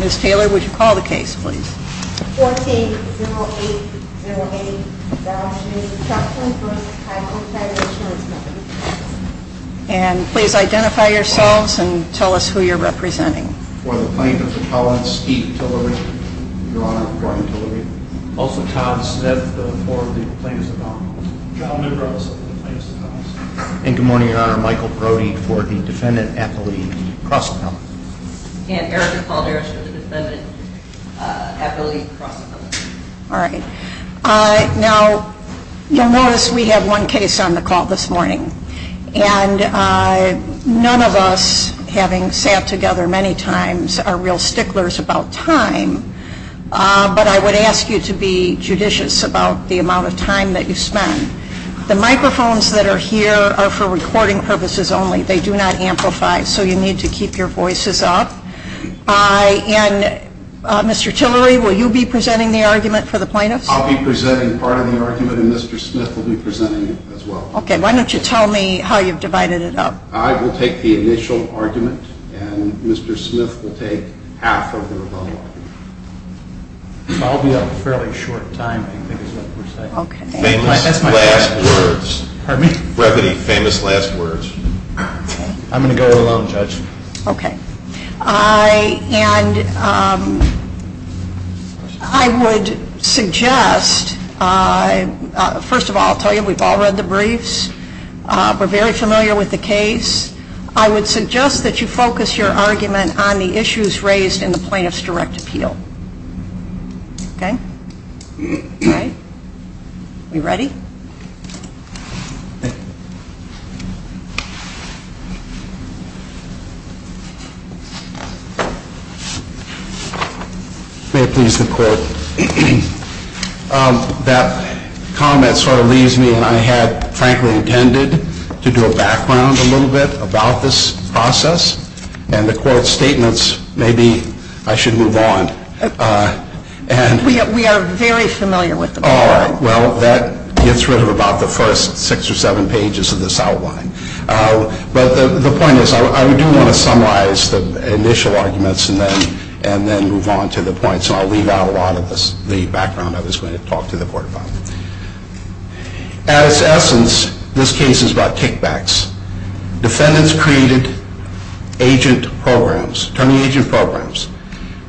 Ms. Taylor, would you call the case please? 14-0808 Dallas-Newton-Stockton v. Title Insurance And please identify yourselves and tell us who you're representing. For the plaintiff, I'm Steve Tillery. Your Honor, I'm Gordon Tillery. Also, Tom, this is Ed. I'm Bill Thornton. Thanks, Tom. John, I'm Earl Simpson. Thanks, Tom. And good morning, Your Honor. I'm Michael Brody for the Defendant Athlete Cross-Country. And Erica Paul Harris for the Defendant Athlete Cross-Country. All right. Now, you'll notice we had one case on the call this morning. And none of us, having sat together many times, are real sticklers about time. But I would ask you to be judicious about the amount of time that you spend. The microphones that are here are for recording purposes only. They do not amplify, so you need to keep your voices up. And Mr. Tillery, will you be presenting the argument for the plaintiff? I'll be presenting part of the argument, and Mr. Smith will be presenting it as well. Okay. Why don't you tell me how you've divided it up? I will take the initial argument, and Mr. Smith will take half of the rebuttal. I'll be up for a fairly short time. Famous last words. I'm going to go alone, Judge. Okay. And I would suggest, first of all, I'll tell you we've all read the briefs. We're very familiar with the case. I would suggest that you focus your argument on the issues raised in the plaintiff's direct appeal. Okay? Are we ready? May I please have a quote? That comment sort of leaves me, and I had, frankly, intended to do a background a little bit about this process. And the court statements, maybe I should move on. We are very familiar with them. All right. Well, that gets rid of about the first six or seven pages of this outline. But the point is, I do want to summarize the initial arguments and then move on to the points. I'll leave out a lot of the background I was going to talk to the court about. At its essence, this case is about kickbacks. Defendants created agent programs, attorney agent programs,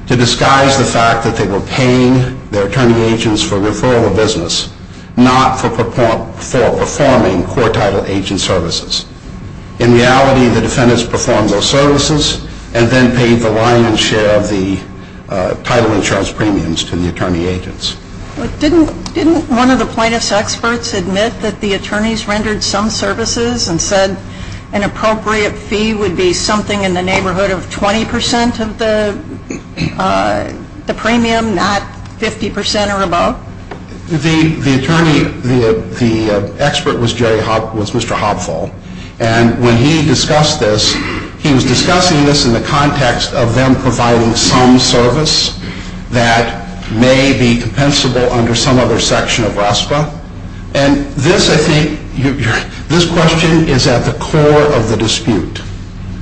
to disguise the fact that they were paying their attorney agents for referral of business, not for performing court-titled agent services. In reality, the defendants performed those services and then paid the line and share of the title insurance premiums to the attorney agents. Didn't one of the plaintiff's experts admit that the attorneys rendered some services and said an appropriate fee would be something in the neighborhood of 20% of the premium, not 50% or above? The attorney, the expert was Mr. Hopful. And when he discussed this, he was discussing this in the context of them providing some service that may be compensable under some other section of RASPA. And this, I think, this question is at the core of the dispute,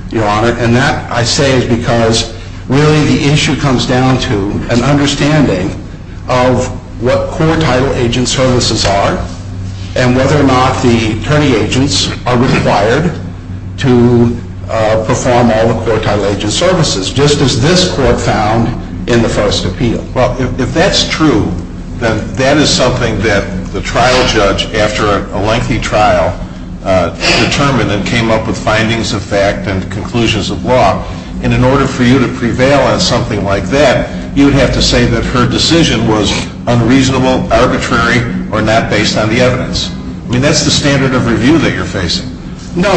Your Honor. And that, I say, is because really the issue comes down to an understanding of what court-titled agent services are and whether or not the attorney agents are required to perform all the court-titled agent services. Just as this court found in the first appeal. Well, if that's true, then that is something that the trial judge, after a lengthy trial, determined and came up with findings of fact and conclusions of law. And in order for you to prevail on something like that, you would have to say that her decision was unreasonable, arbitrary, or not based on the evidence. I mean, that's the standard of review that you're facing. No,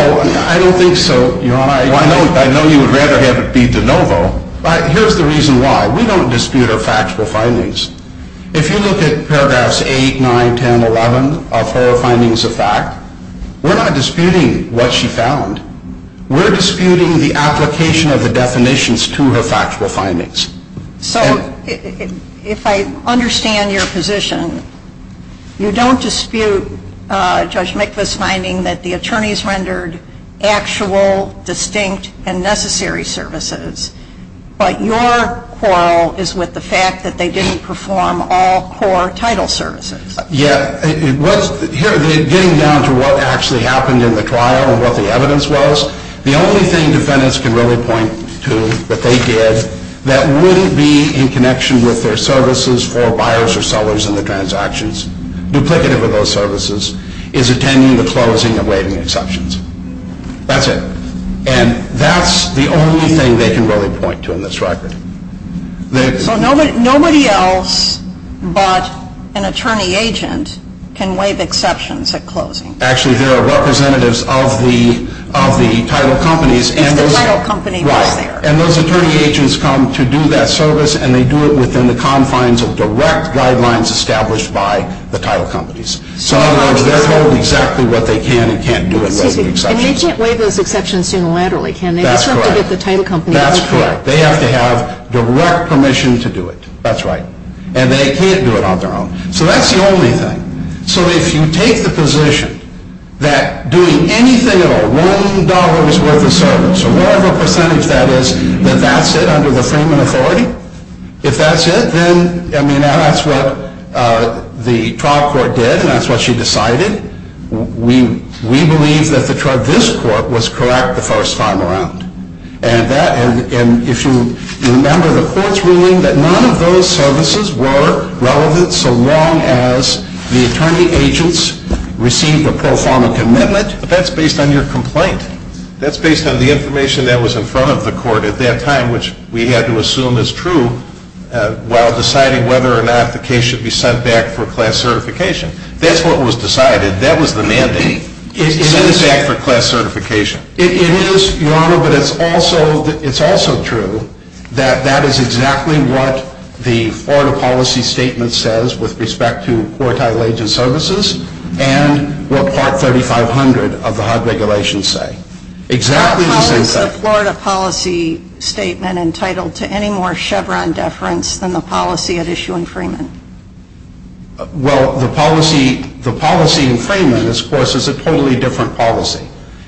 I don't think so, Your Honor. Well, I know you would rather have it be de novo, but here's the reason why. We don't dispute her factual findings. If you look at paragraphs 8, 9, 10, 11 of her findings of fact, we're not disputing what she found. We're disputing the application of the definitions to her factual findings. So, if I understand your position, you don't dispute Judge McCliff's finding that the attorneys rendered actual, distinct, and necessary services. But your quarrel is with the fact that they didn't perform all court-titled services. Yeah. Getting down to what actually happened in the trial and what the evidence was, the only thing defendants can really point to that they did that wouldn't be in connection with their services for buyers or sellers in the transactions, duplicative of those services, is attending the closing and waiving exceptions. That's it. And that's the only thing they can really point to in this record. So, nobody else but an attorney agent can waive exceptions at closing. Actually, there are representatives of the title companies. And the title companies are there. And those attorney agents come to do that service, and they do it within the confines of direct guidelines established by the title companies. So, they're told exactly what they can and can't do at waiving exceptions. And they can't waive those exceptions unilaterally, can they? That's correct. They just have to get the title companies to do it. That's correct. They have to have direct permission to do it. That's right. And they can't do it on their own. So, that's the only thing. So, if you take the position that doing anything at all, So, whatever percentage that is, that that's it under the Thurman authority. If that's it, then, I mean, that's what the trial court did, and that's what she decided. We believe that the charge in this court was correct the first time around. And if you remember the court's ruling that none of those services were relevant so long as the attorney agents received a pro forma commitment. But that's based on your complaint. That's based on the information that was in front of the court at that time, which we had to assume is true while deciding whether or not the case should be sent back for class certification. That's what was decided. That was the mandate. It is sent back for class certification. It is, Your Honor, but it's also true that that is exactly what the Florida policy statement says with respect to quartile agent services and what Part 3500 of the HUD regulations say. Exactly the same thing. How is the Florida policy statement entitled to any more Chevron deference than the policy at issue in Freeman? Well, the policy in Freeman, of course, is a totally different policy.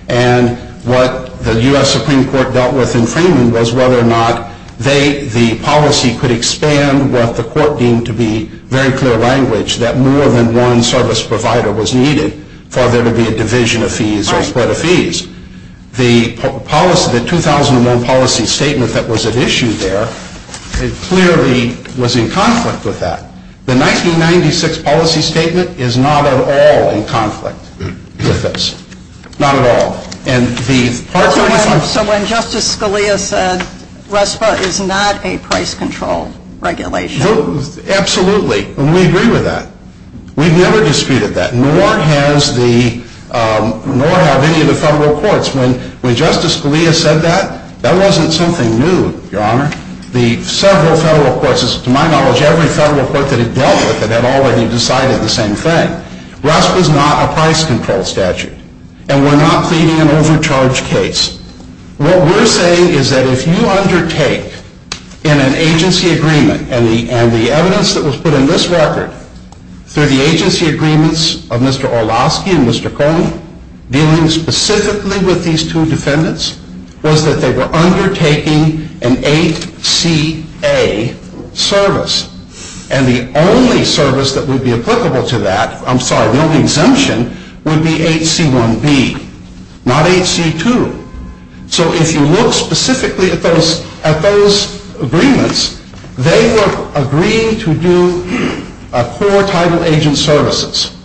And what the U.S. Supreme Court dealt with in Freeman was whether or not the policy could expand given what the court deemed to be very clear language that more than one service provider was needed for there to be a division of fees or spread of fees. The 2001 policy statement that was at issue there clearly was in conflict with that. The 1996 policy statement is not at all in conflict with this. Not at all. So when Justice Scalia said RESPA is not a price control regulation. Absolutely. And we agree with that. We've never disputed that, nor have any of the federal courts. When Justice Scalia said that, that wasn't something new, Your Honor. The several federal courts, to my knowledge, every federal court could have dealt with it and already decided the same thing. RESPA is not a price control statute. And we're not pleading an overcharge case. What we're saying is that if you undertake in an agency agreement, and the evidence that was put in this record through the agency agreements of Mr. Orlowski and Mr. Coleman, dealing specifically with these two defendants, was that they were undertaking an ACA service. And the only service that would be applicable to that, I'm sorry, the only exemption, would be HC1B. Not HC2. So if you look specifically at those agreements, they were agreeing to do a core title agent services.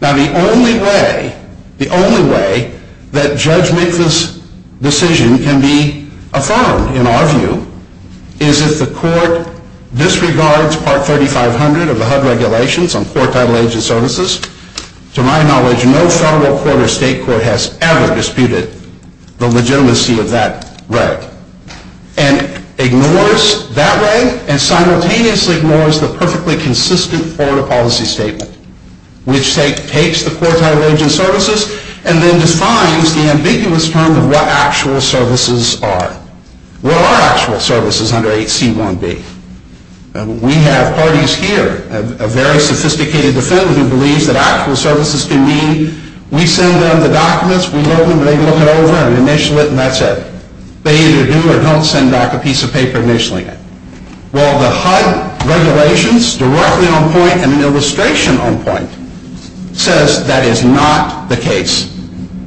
Now the only way, the only way, that Judge Mika's decision can be affirmed, in our view, is if the court disregards Part 3500 of the HUD regulations on core title agent services. To my knowledge, no federal court or state court has ever disputed the legitimacy of that right. And ignores that way, and simultaneously ignores the perfectly consistent order policy statement, which takes the core title agent services and then defines the ambiguous term of what actual services are. What are actual services under HC1B? We have parties here, a very sophisticated defendant who believes that actual services can be, we send them the documents, we load them, they go through, we initial it, and that's it. They either do or don't send back a piece of paper originally. While the HUD regulations directly on point, and the illustration on point, says that is not the case.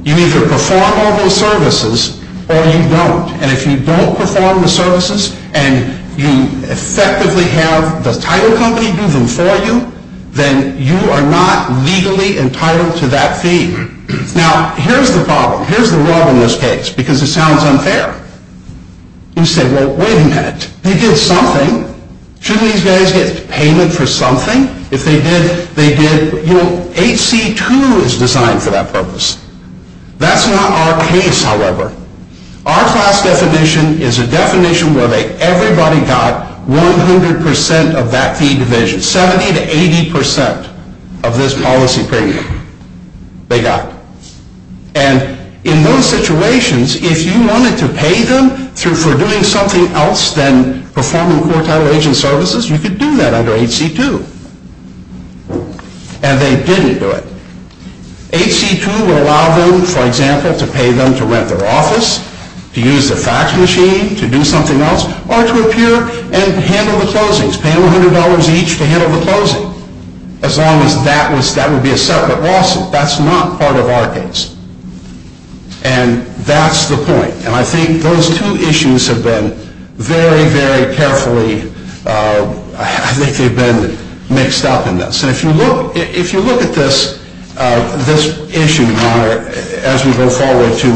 You either perform all those services, or you don't. And if you don't perform the services, and you effectively have the title company do them for you, then you are not legally entitled to that fee. Now, here's the problem, here's the rub on this case, because it sounds unfair. You say, well, wait a minute, we did something, shouldn't these guys get payment for something? HC2 is designed for that purpose. That's not our case, however. Our class definition is a definition where everybody got 100% of that fee division. 70 to 80% of this policy period, they got. And in those situations, if you wanted to pay them for doing something else than performing core title agent services, you could do that under HC2. And they didn't do it. HC2 would allow them, for example, to pay them to rent their office, to use the tax machine to do something else, or to appear and handle the closings, pay them $100 each to handle the closings. As long as that would be a separate lawsuit. That's not part of our case. And that's the point. And I think those two issues have been very, very carefully mixed up in this. And if you look at this issue as we go forward to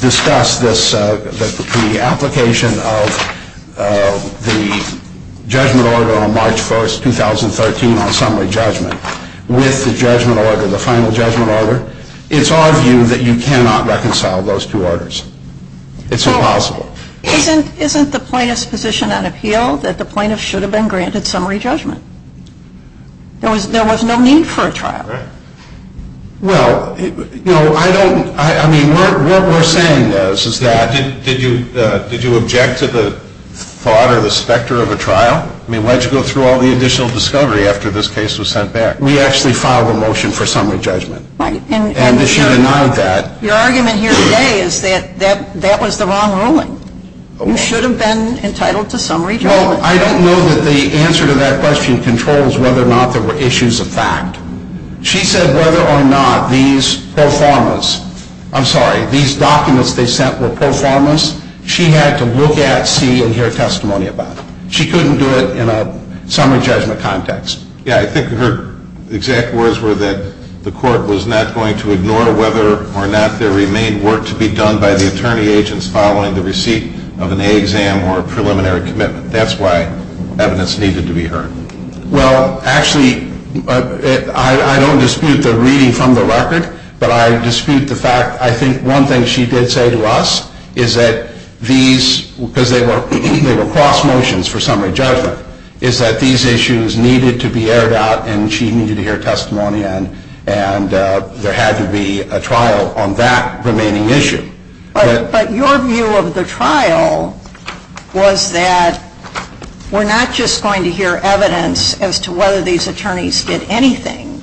discuss the application of the judgment order on March 1, 2013, with the judgment order, the final judgment order, it's argued that you cannot reconcile those two orders. It's impossible. Isn't the plaintiff's position on a field that the plaintiff should have been granted summary judgment? There was no need for a trial. Well, you know, I don't, I mean, what we're saying is that. Did you object to the thought or the specter of a trial? I mean, why'd you go through all the additional discovery after this case was sent back? We actually filed a motion for summary judgment. And the jury nodded that. Your argument here today is that that was the wrong ruling. You should have been entitled to summary judgment. No, I don't know that the answer to that question controls whether or not there were issues of fact. She said whether or not these pro formas, I'm sorry, these documents they sent were pro formas, she had to look at, see, and hear testimony about. She couldn't do it in a summary judgment context. Yeah, I think her exact words were that the court was not going to ignore whether or not there remained work to be done by the attorney agents following the receipt of an A exam or a preliminary commitment. That's why evidence needed to be heard. Well, actually, I don't dispute the reading from the record, but I dispute the fact, I think one thing she did say to us is that these, because they were cross motions for summary judgment, is that these issues needed to be aired out and she needed to hear testimony and there had to be a trial on that remaining issue. But your view of the trial was that we're not just going to hear evidence as to whether these attorneys did anything.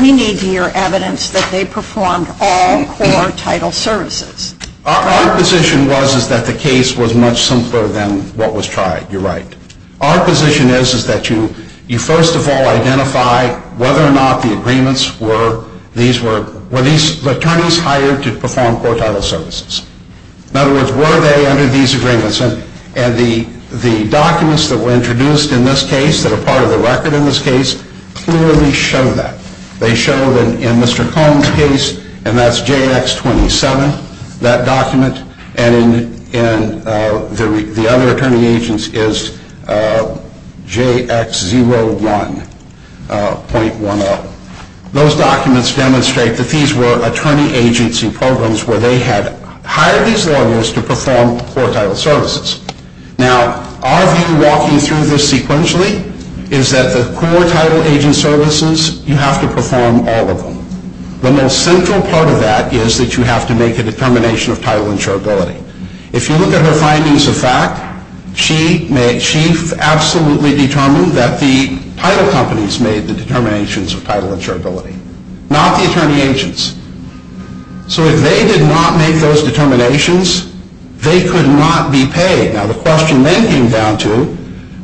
We need to hear evidence that they performed all core title services. Our position was that the case was much simpler than what was tried. You're right. Our position is that you first of all identify whether or not the agreements were, were these attorneys hired to perform core title services? In other words, were they under these agreements? And the documents that were introduced in this case that are part of the record in this case clearly show that. They show that in Mr. Cohn's case, and that's JX27, that document, and in the other attorney agents is JX01.10. Those documents demonstrate that these were attorney agents in programs where they had hired these lawyers to perform core title services. Now, our view walking through this sequentially is that the core title agent services, you have to perform all of them. The most central part of that is that you have to make a determination of title insurability. If you look at her findings of fact, she absolutely determined that the title companies made the determinations of title insurability, not the attorney agents. So if they did not make those determinations, they could not be paid. Now, the question then came down to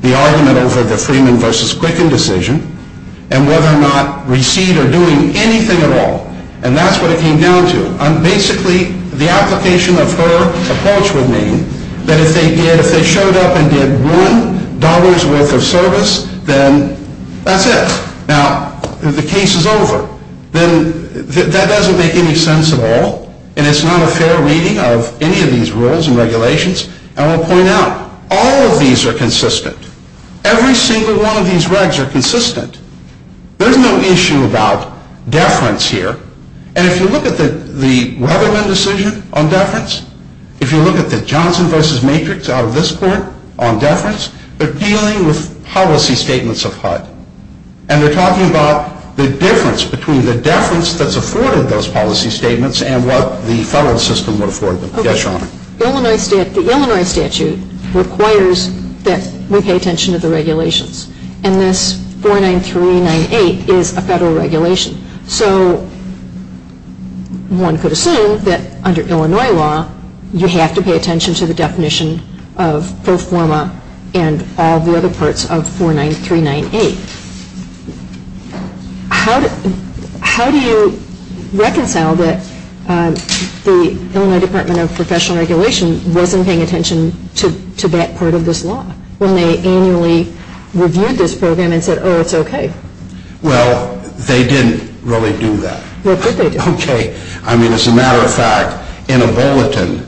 the argument over the Freeman v. Quicken decision and whether or not we see her doing anything at all, and that's what it came down to. Basically, the application of her approach would mean that if they did, if they showed up and did one dollar's worth of service, then that's it. Now, the case is over. Now, that doesn't make any sense at all, and it's not a fair reading of any of these rules and regulations, and I'll point out all of these are consistent. Every single one of these regs are consistent. There's no issue about deference here, and if you look at the Weatherman decision on deference, if you look at the Johnson v. Matrix out of this court on deference, they're dealing with policy statements of HUD, and we're talking about the difference between the deference that's afforded those policy statements and what the federal system would afford them. Yes, Your Honor. Okay. The Illinois statute requires that we pay attention to the regulations, and this 49398 is a federal regulation. So one could assume that under Illinois law, you have to pay attention to the definition of post-forma and all the other parts of 49398. How do you reconcile that the Illinois Department of Professional Regulations wasn't paying attention to that part of this law when they annually reviewed this program and said, oh, it's okay? Well, they didn't really do that. No, of course they didn't. Okay. I mean, as a matter of fact, in a bulletin,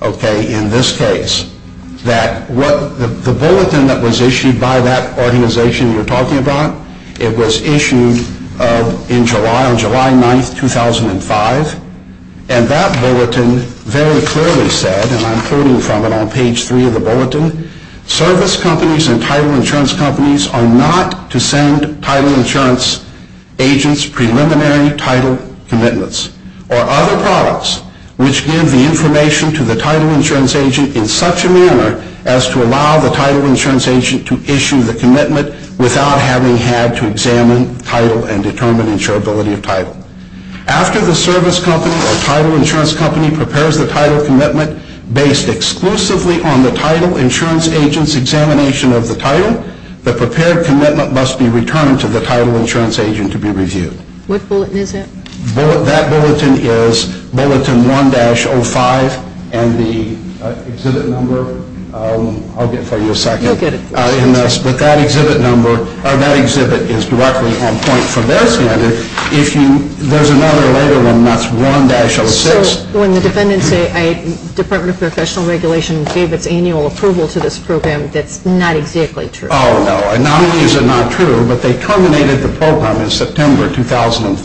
okay, in this case, that the bulletin that was issued by that organization you're talking about, it was issued in July, on July 9, 2005, and that bulletin very clearly said, and I'm quoting from it on page three of the bulletin, service companies and title insurance companies are not to send title insurance agents preliminary title commitments or other products which give the information to the title insurance agent in such a manner as to allow the title insurance agent to issue the commitment without having had to examine title and determine insurability of title. After the service company or title insurance company prepares the title commitment based exclusively on the title insurance agent's examination of the title, the prepared commitment must be returned to the title insurance agent to be reviewed. What bulletin is that? That bulletin is bulletin 1-05 and the exhibit number. I'll get for you in a second. Okay. But that exhibit number, that exhibit is directly on point for this letter. There's another later one that's 1-06. So when the defendants say the Department of Professional Regulations gave its annual approval to this program, that's not exactly true. Oh, no, anomalies are not true, but they terminated the program in September 2005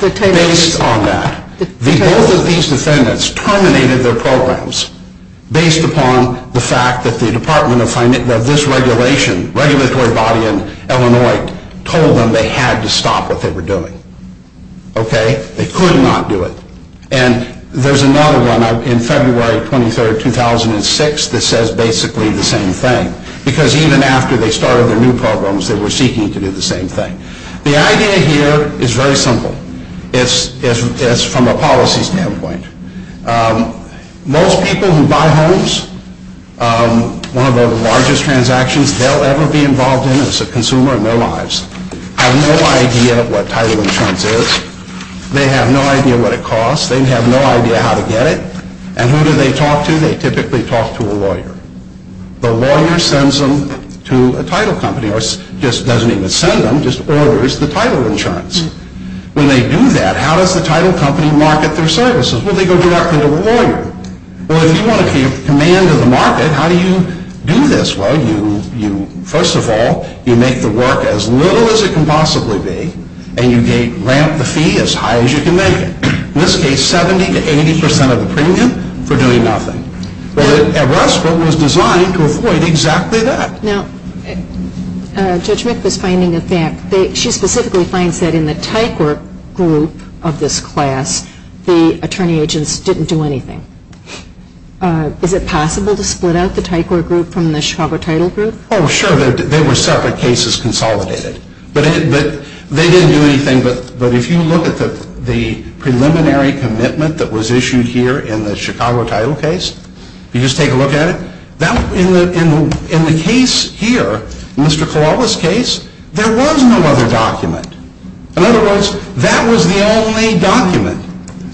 based on that. Both of these defendants terminated their programs based upon the fact that the Department of this regulation, regulatory body in Illinois, told them they had to stop what they were doing. Okay? They could not do it. And there's another one in February 23, 2006, that says basically the same thing, because even after they started their new programs, they were seeking to do the same thing. The idea here is very simple. It's from a policy standpoint. Most people who buy homes, one of the largest transactions they'll ever be involved in as a consumer in their lives, have no idea what title insurance is. They have no idea what it costs. They have no idea how to get it. And who do they talk to? They typically talk to a lawyer. The lawyer sends them to a title company, or doesn't even sell them, just orders the title insurance. When they do that, how does the title company market their services? Well, they go directly to the lawyer. Well, if you want to keep command of the market, how do you do this? Well, first of all, you make the work as little as it can possibly be, and you ramp the fee as high as you can make it. In this case, 70% to 80% of the premium for doing nothing. At Westbrook, it was designed to avoid exactly that. Now, Judge Smith is specifically saying that in the Tycor group of this class, the attorney agents didn't do anything. Is it possible to split out the Tycor group from the Schwaber Title group? Oh, sure. They were separate cases consolidated. But they didn't do anything. But if you look at the preliminary commitment that was issued here in the Chicago title case, you just take a look at it. In the case here, Mr. Corolla's case, there was no other document. In other words, that was the only document.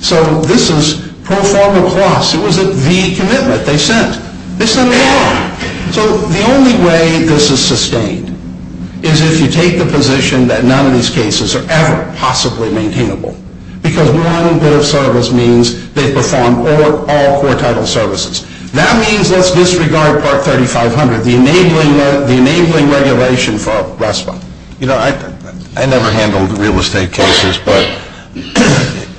So this is pro forma clause. It was the commitment they sent. It's the law. So the only way this is sustained is if you take the position that none of these cases are ever possibly maintainable because one of those titles means they perform all four title services. That means let's disregard Part 3500, the enabling regulation for Westbrook. You know, I never handled real estate cases,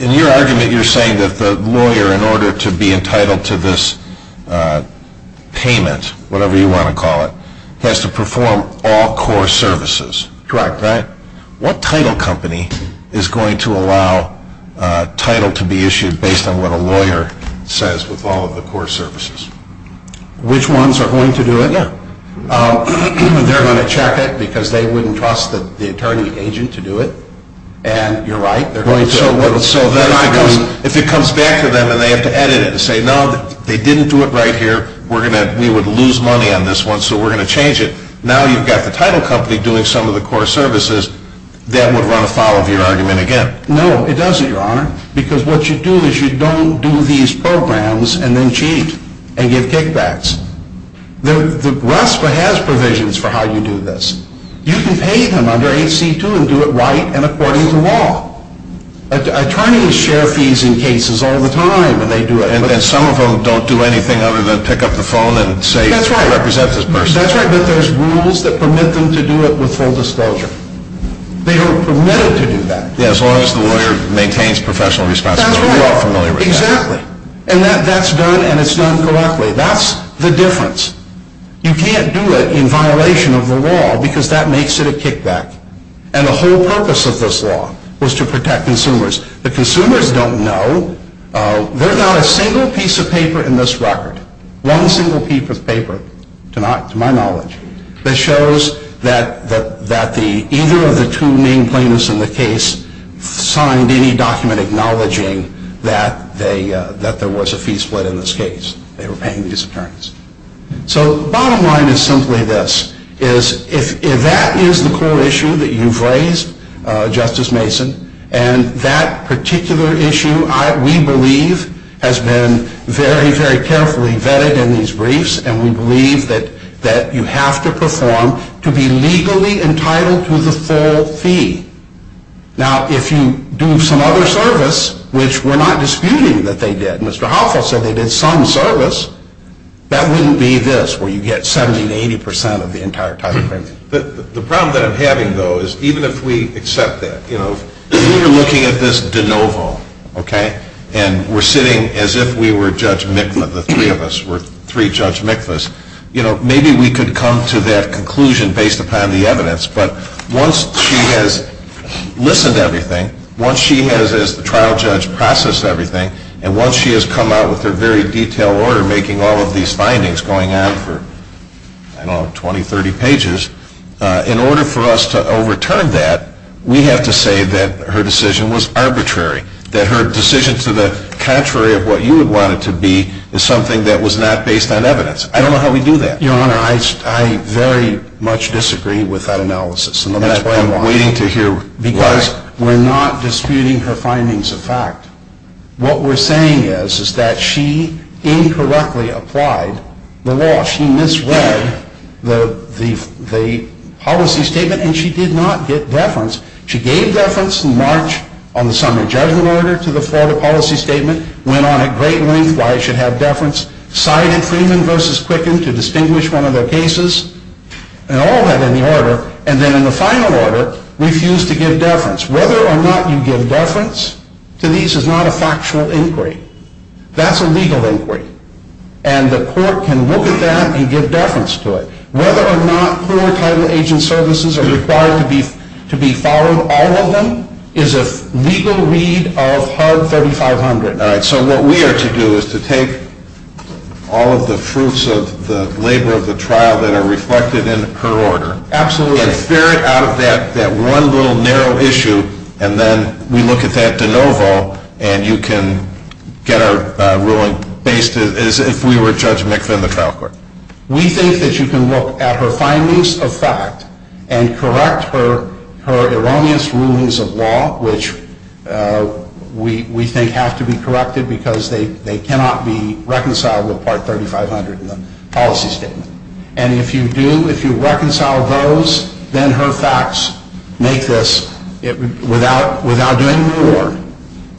In your argument, you're saying that the lawyer, in order to be entitled to this payment, whatever you want to call it, has to perform all core services. Correct. What title company is going to allow title to be issued based on what a lawyer says with all of the core services? Which ones are going to do it? They're going to check it because they wouldn't trust the attorney agent to do it. And you're right. So if it comes back to them and they have to edit it and say, No, they didn't do it right here. We're going to lose money on this one, so we're going to change it. Now you've got the title company doing some of the core services. That would run afoul of your argument again. No, it doesn't, Your Honor. Because what you do is you don't do these programs and then cheat and give kickbacks. The RASPA has provisions for how you do this. You can pay them under 8C2 and do it right and according to law. Attorneys share fees in cases all the time when they do it. And some of them don't do anything other than pick up the phone and say, I represent this person. That's right, but there's rules that permit them to do it with full disclosure. They don't permit it to do that. Yes, unless the lawyer maintains professional responsibility. That's right. Exactly. And that's done, and it's done correctly. That's the difference. You can't do it in violation of the law because that makes it a kickback. And the whole purpose of this law was to protect consumers. The consumers don't know. There's not a single piece of paper in this record, one single piece of paper, to my knowledge, that shows that either of the two main claimants in the case signed any document acknowledging that there was a fee split in this case. They were paying these attorneys. So the bottom line is simply this, is if that is the core issue that you've raised, Justice Mason, and that particular issue we believe has been very, very carefully vetted in these briefs and we believe that you have to perform to be legally entitled to the full fee. Now, if you do some other service, which we're not disputing that they did. If Mr. Hoffel said they did some service, that wouldn't be this, where you get 70% to 80% of the entire time. The problem that I'm having, though, is even if we accept that, if we're looking at this de novo and we're sitting as if we were Judge Miklas, the three of us were three Judge Miklas, maybe we could come to that conclusion based upon the evidence. But once she has listened to everything, once she has, as the trial judge, processed everything, and once she has come out with her very detailed order making all of these findings going on for, I don't know, 20, 30 pages, in order for us to overturn that, we have to say that her decision was arbitrary, that her decision to the contrary of what you would want it to be is something that was not based on evidence. I don't know how we do that. Your Honor, I very much disagree with that analysis. And that's why I'm waiting to hear why. Because we're not disputing her findings of fact. What we're saying is that she incorrectly applied the law. She misread the policy statement, and she did not get deference. She gave deference in March on the summer judgment order to the Florida policy statement, went on at great length why she had deference, cited Freeman v. Crickin to distinguish one of their cases, and all that in the order, and then in the final order refused to give deference. Whether or not you give deference to these is not a factual inquiry. That's a legal inquiry. And the court can look at that and give deference to it. Whether or not cruel time-aging services are required to be followed, all of them is a legal read of Part 3500. So what we are to do is to take all of the fruits of the labor of the trial that are reflected in her order. Absolutely. And ferret out that one little narrow issue, and then we look at that de novo, and you can get her ruling based as if we were Judge McPherson in the trial court. We think that you can look at her findings of fact and correct her erroneous rulings of law, which we think have to be corrected because they cannot be reconciled with Part 3500 in the policy statement. And if you do, if you reconcile those, then her facts make this. Without doing the reward,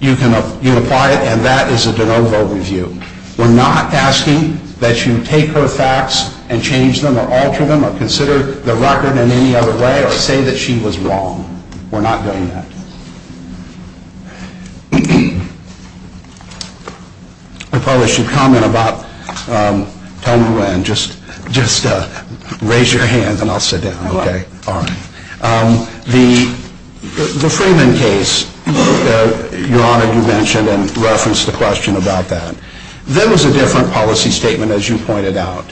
you apply it, and that is a de novo review. We're not asking that you take her facts and change them or alter them or consider the record in any other way or say that she was wrong. We're not doing that. If I should comment about time to end, just raise your hand and I'll sit down, okay? All right. The Freeman case, Your Honor, you mentioned and referenced the question about that. That was a different policy statement, as you pointed out.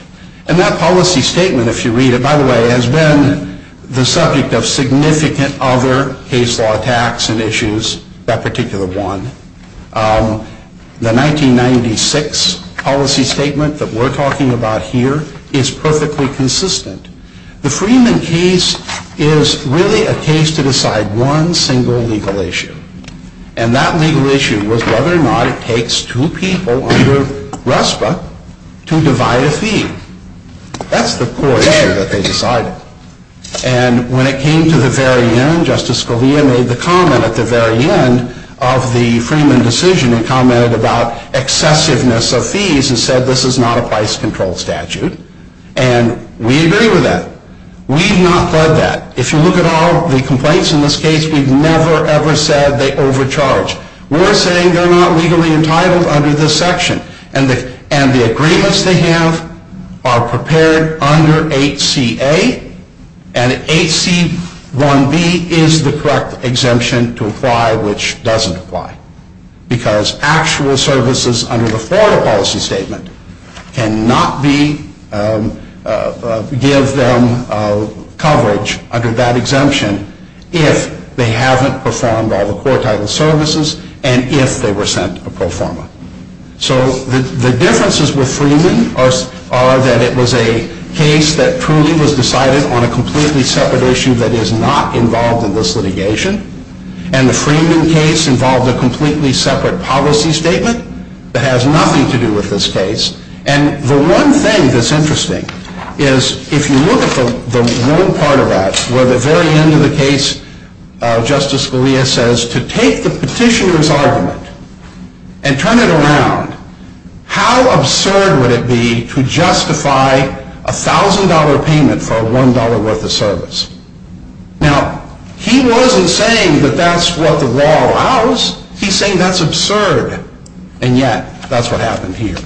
And that policy statement, if you read it, by the way, has been the subject of significant other case law attacks and issues, that particular one. The 1996 policy statement that we're talking about here is perfectly consistent. The Freeman case is really a case to decide one single legal issue, and that legal issue was whether or not it takes two people under RESPA to divide a fee. That's the core issue that they decided. And when it came to the very end, Justice Scalia made the comment at the very end of the Freeman decision. He commented about excessiveness of fees and said this is not a price control statute, and we agree with that. We have not said that. If you look at all of the complaints in this case, we've never, ever said they overcharged. We're saying they're not legally entitled under this section, and the agreements they have are prepared under 8CA, and 8C1B is the correct exemption to apply which doesn't apply, because actual services under the former policy statement cannot give them coverage under that exemption if they haven't performed all the core title services and if they were sent a pro forma. So the differences with Freeman are that it was a case that truly was decided on a completely separate issue that is not involved in this litigation, and the Freeman case involved a completely separate policy statement that has nothing to do with this case. And the one thing that's interesting is if you look at the one part of that where at the very end of the case Justice Scalia says to take the petitioner's argument and turn it around, how absurd would it be to justify a $1,000 payment for a $1 worth of service? Now, he wasn't saying that that's what the law allows. He's saying that's absurd, and yet that's what happened here.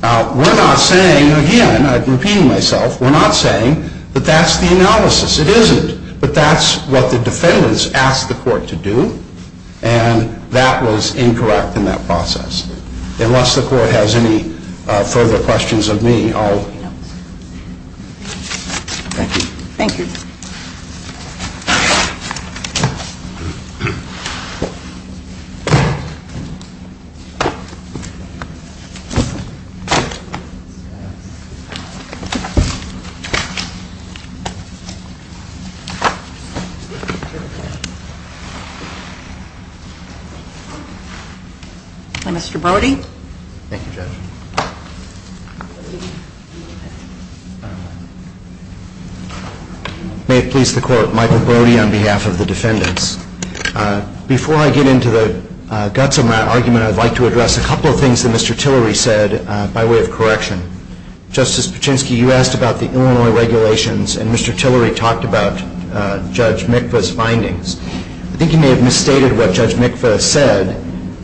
Now, we're not saying, again, I'm repeating myself, we're not saying that that's the analysis. It isn't, but that's what the defendants asked the court to do, and that was incorrect in that process, unless the court has any further questions of me. That's all. Thank you. Thank you. Mr. Brody. Thank you, Judge. May it please the Court, Michael Brody on behalf of the defendants. Before I get into the guts of my argument, I'd like to address a couple of things that Mr. Tillery said by way of correction. Justice Pachinski, you asked about the Illinois regulations, and Mr. Tillery talked about Judge Mikva's findings. I think you may have misstated what Judge Mikva said.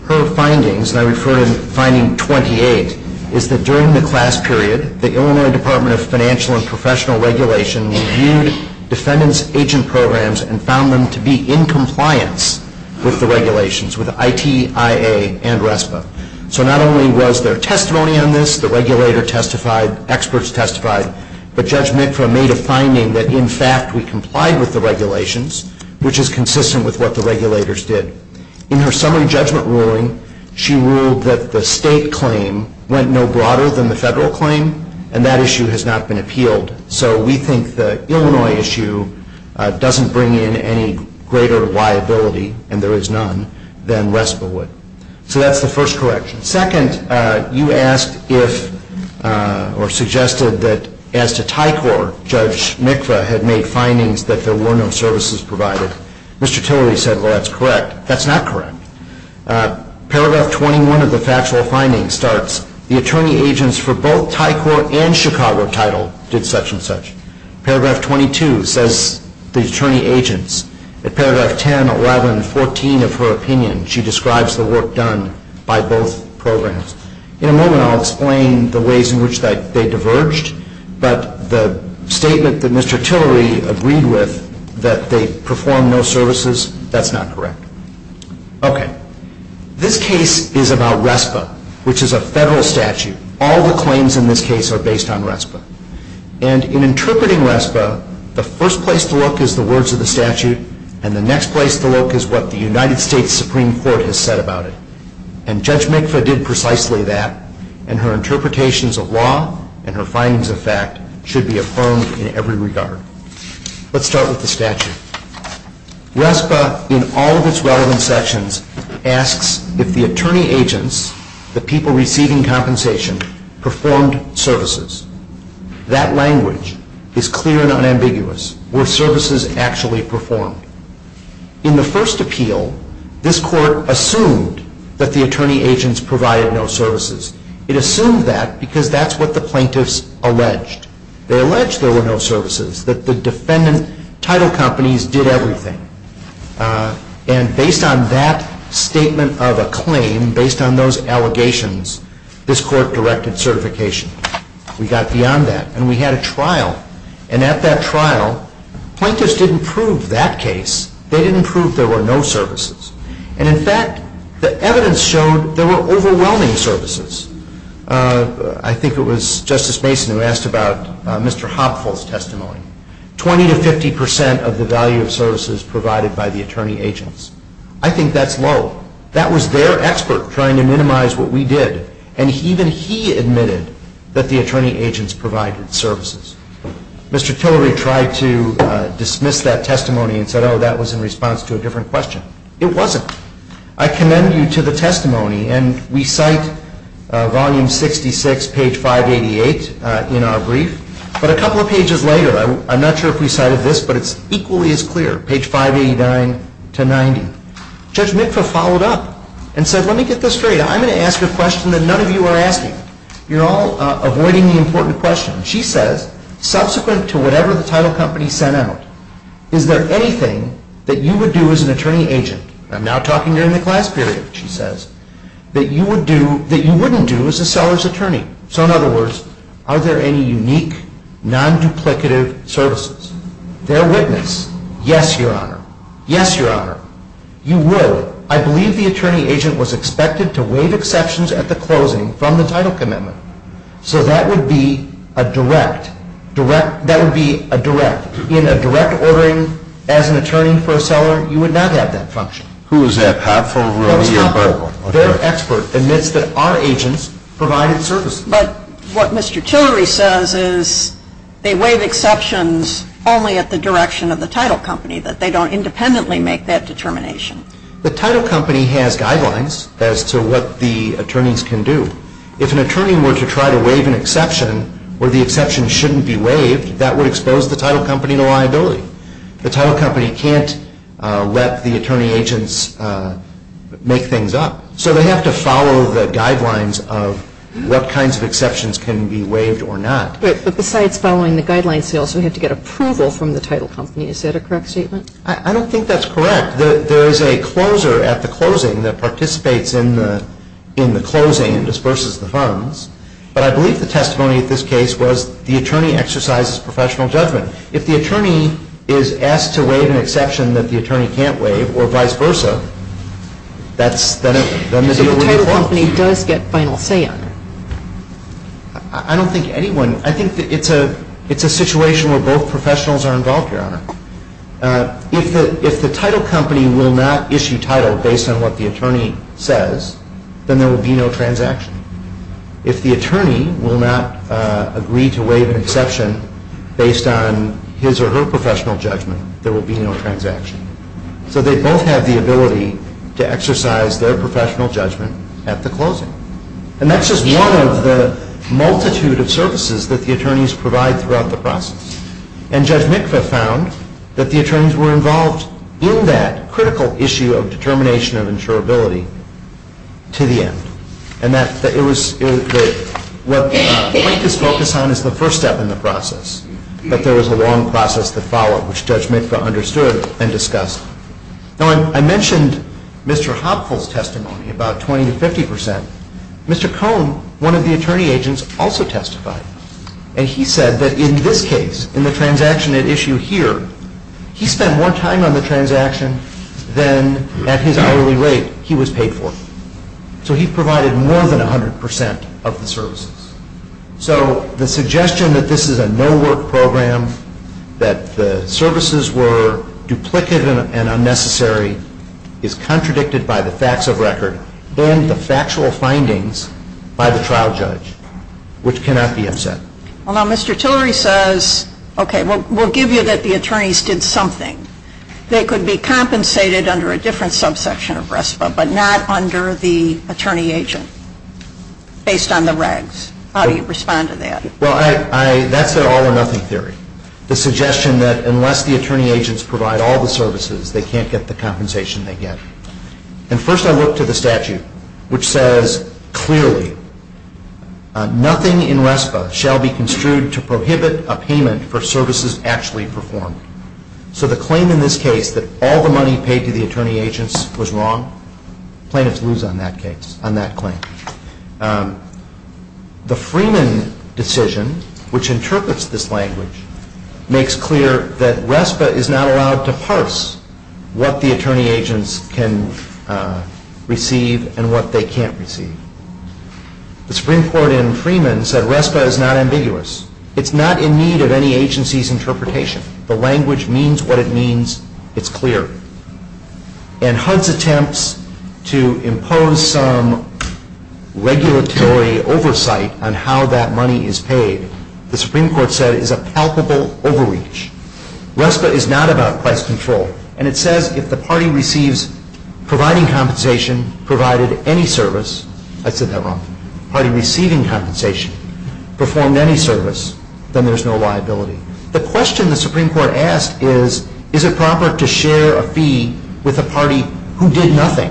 Her findings, and I refer to finding 28, is that during the class period, the Illinois Department of Financial and Professional Regulation used defendants' agent programs and found them to be in compliance with the regulations, with ITIA and RESPA. So not only was there testimony on this, the regulator testified, experts testified, but Judge Mikva made a finding that, in fact, we complied with the regulations, which is consistent with what the regulators did. In her summary judgment ruling, she ruled that the state claim went no broader than the federal claim, and that issue has not been appealed. So we think the Illinois issue doesn't bring in any greater liability, and there is none, than RESPA would. So that's the first correction. Second, you asked if, or suggested that, as to TICOR, Judge Mikva had made findings that there were no services provided. Mr. Tillery said, well, that's correct. That's not correct. Paragraph 21 of the factual finding starts, the attorney agents for both TICOR and Chicago title did such and such. Paragraph 22 says the attorney agents. At Paragraph 10, 11, 14 of her opinion, she describes the work done by both programs. In a moment, I'll explain the ways in which they diverged, but the statement that Mr. Tillery agreed with, that they performed no services, that's not correct. Okay. This case is about RESPA, which is a federal statute. All the claims in this case are based on RESPA. And in interpreting RESPA, the first place to look is the words of the statute, and the next place to look is what the United States Supreme Court has said about it. And Judge Mikva did precisely that, and her interpretations of law and her findings of fact should be affirmed in every regard. Let's start with the statute. RESPA, in all of its relevant sections, asks if the attorney agents, the people receiving compensation, performed services. That language is clear and unambiguous. Were services actually performed? In the first appeal, this court assumed that the attorney agents provided no services. It assumed that because that's what the plaintiffs alleged. They alleged there were no services, that the defendant title companies did everything. And based on that statement of a claim, based on those allegations, this court directed certification. We got beyond that, and we had a trial. And at that trial, plaintiffs didn't prove that case. They didn't prove there were no services. And, in fact, the evidence showed there were overwhelming services. I think it was Justice Mason who asked about Mr. Hopfield's testimony. Twenty to fifty percent of the value of services provided by the attorney agents. I think that's low. That was their expert trying to minimize what we did, and even he admitted that the attorney agents provided services. Mr. Tillery tried to dismiss that testimony and said, oh, that was in response to a different question. It wasn't. I commend you to the testimony, and we cite volume 66, page 588 in our brief. But a couple of pages later, I'm not sure if we cited this, but it's equally as clear, page 589 to 90. Judge Mitka followed up and said, let me get this straight. I'm going to ask a question that none of you are asking. You're all avoiding the important question. She says, subsequent to whatever the title company sent out, is there anything that you would do as an attorney agent? I'm now talking during the class period, she says. That you wouldn't do as a seller's attorney. So, in other words, are there any unique, non-duplicative services? They're witness. Yes, Your Honor. Yes, Your Honor. You would. I believe the attorney agent was expected to waive exceptions at the closing from the title commitment. So that would be a direct, direct, that would be a direct. In a direct ordering as an attorney for a seller, you would not have that function. Who is that? Pat, for real? The expert admits that our agents provided services. But what Mr. Tillery says is they waive exceptions only at the direction of the title company, but they don't independently make that determination. The title company has guidelines as to what the attorneys can do. If an attorney were to try to waive an exception where the exception shouldn't be waived, that would expose the title company to liability. The title company can't let the attorney agents make things up. So they have to follow the guidelines of what kinds of exceptions can be waived or not. But besides following the guidelines, they also have to get approval from the title company. Is that a correct statement? I don't think that's correct. There is a closer at the closing that participates in the closing and disperses the funds. But I believe the testimony at this case was the attorney exercises professional judgment. If the attorney is asked to waive an exception that the attorney can't waive or vice versa, that is a liability. If the title company does get final say on it? I don't think anyone, I think it's a situation where both professionals are involved, Your Honor. If the title company will not issue title based on what the attorney says, then there will be no transaction. If the attorney will not agree to waive an exception based on his or her professional judgment, there will be no transaction. So they both have the ability to exercise their professional judgment at the closing. And that's just one of the multitude of services that the attorneys provide throughout the process. And Judge Mikva found that the attorneys were involved in that critical issue of determination and insurability to the end. And that's what this focus on is the first step in the process. But there was a long process to follow, which Judge Mikva understood and discussed. Now, I mentioned Mr. Hoppe's testimony about 20 to 50%. Mr. Cohn, one of the attorney agents, also testified. And he said that in this case, in the transaction at issue here, he spent more time on the transaction than at his hourly rate he was paid for. So he provided more than 100% of the services. So the suggestion that this is a no-work program, that the services were duplicated and unnecessary, is contradicted by the facts of record and the factual findings by the trial judge, which cannot be assessed. Well, now, Mr. Tillery says, okay, we'll give you that the attorneys did something. They could be compensated under a different subsection of RESPA, but not under the attorney agent, based on the regs. How do you respond to that? Well, that's the all-or-nothing theory. The suggestion that unless the attorney agents provide all the services, they can't get the compensation they get. And first I look to the statute, which says, clearly, nothing in RESPA shall be construed to prohibit a payment for services actually performed. So the claim in this case that all the money paid to the attorney agents was wrong, plaintiffs lose on that claim. The Freeman decision, which interprets this language, makes clear that RESPA is not allowed to parse what the attorney agents can receive and what they can't receive. The Supreme Court in Freeman said RESPA is not ambiguous. It's not in need of any agency's interpretation. The language means what it means. It's clear. And HUD's attempts to impose some regulatory oversight on how that money is paid, the Supreme Court said is a palpable overreach. RESPA is not about price control. And it says if the party receives providing compensation provided any service, I said that wrong, party receiving compensation, performed any service, then there's no liability. The question the Supreme Court asked is, is it proper to share a fee with a party who did nothing?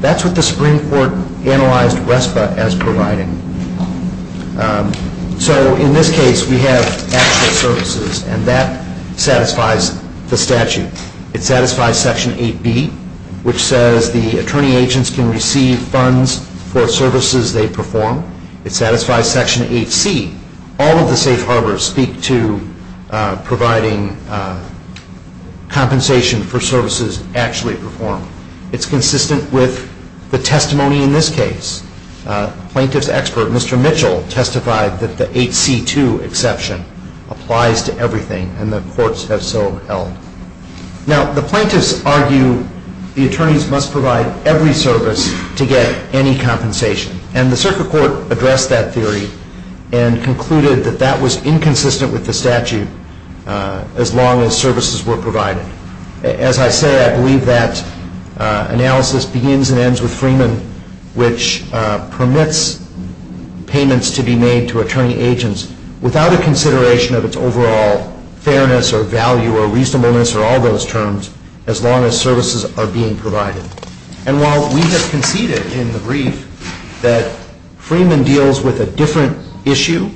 That's what the Supreme Court analyzed RESPA as providing. So in this case, we have access services, and that satisfies the statute. It satisfies Section 8B, which says the attorney agents can receive funds for services they perform. It satisfies Section 8C. All of the safe harbors speak to providing compensation for services actually performed. It's consistent with the testimony in this case. Plaintiff's expert, Mr. Mitchell, testified that the 8C2 exception applies to everything, and the courts have so held. Now, the plaintiffs argue the attorneys must provide every service to get any compensation. And the circuit court addressed that theory and concluded that that was inconsistent with the statute as long as services were provided. As I said, I believe that analysis begins and ends with Freeman, which permits payments to be made to attorney agents without a consideration of its overall fairness or value or reasonableness or all those terms, as long as services are being provided. And while we have conceded in the brief that Freeman deals with a different issue,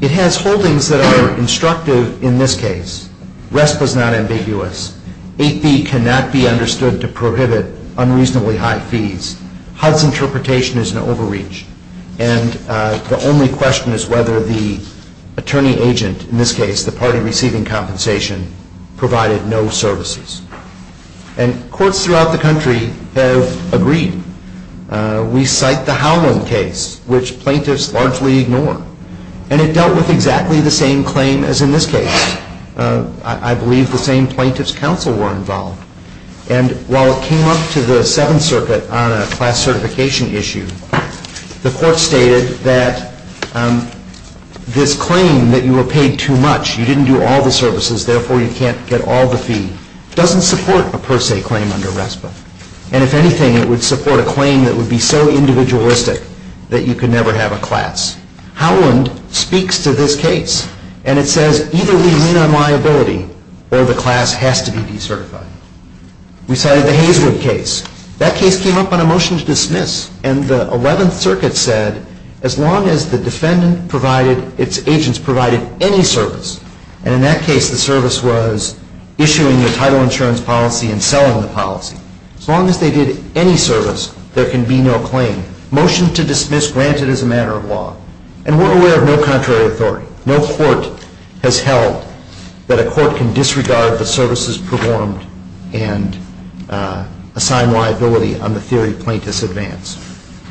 it has holdings that are constructive in this case. RESPA is not ambiguous. 8B cannot be understood to prohibit unreasonably high fees. HUD's interpretation is an overreach. And the only question is whether the attorney agent, in this case the party receiving compensation, provided no services. And courts throughout the country have agreed. We cite the Howland case, which plaintiffs largely ignore. And it dealt with exactly the same claim as in this case. I believe the same plaintiffs' counsel were involved. And while it came up to the Seventh Circuit on a class certification issue, the court stated that this claim that you were paid too much, you didn't do all the services, therefore you can't get all the fees, doesn't support a per se claim under RESPA. And if anything, it would support a claim that would be so individualistic that you could never have a class. Howland speaks to this case. And it says either we lean on liability or the class has to be decertified. We cited the Hazelwood case. That case came up on a motion to dismiss. And the Eleventh Circuit said as long as the defendant's agents provided any service, and in that case the service was issuing the title insurance policy and selling the policy, as long as they did any service, there can be no claim. Motion to dismiss grants it as a matter of law. And we're aware of no contrary authority. No court has held that a court can disregard the services performed and assign liability on the theory of plaintiff's advance.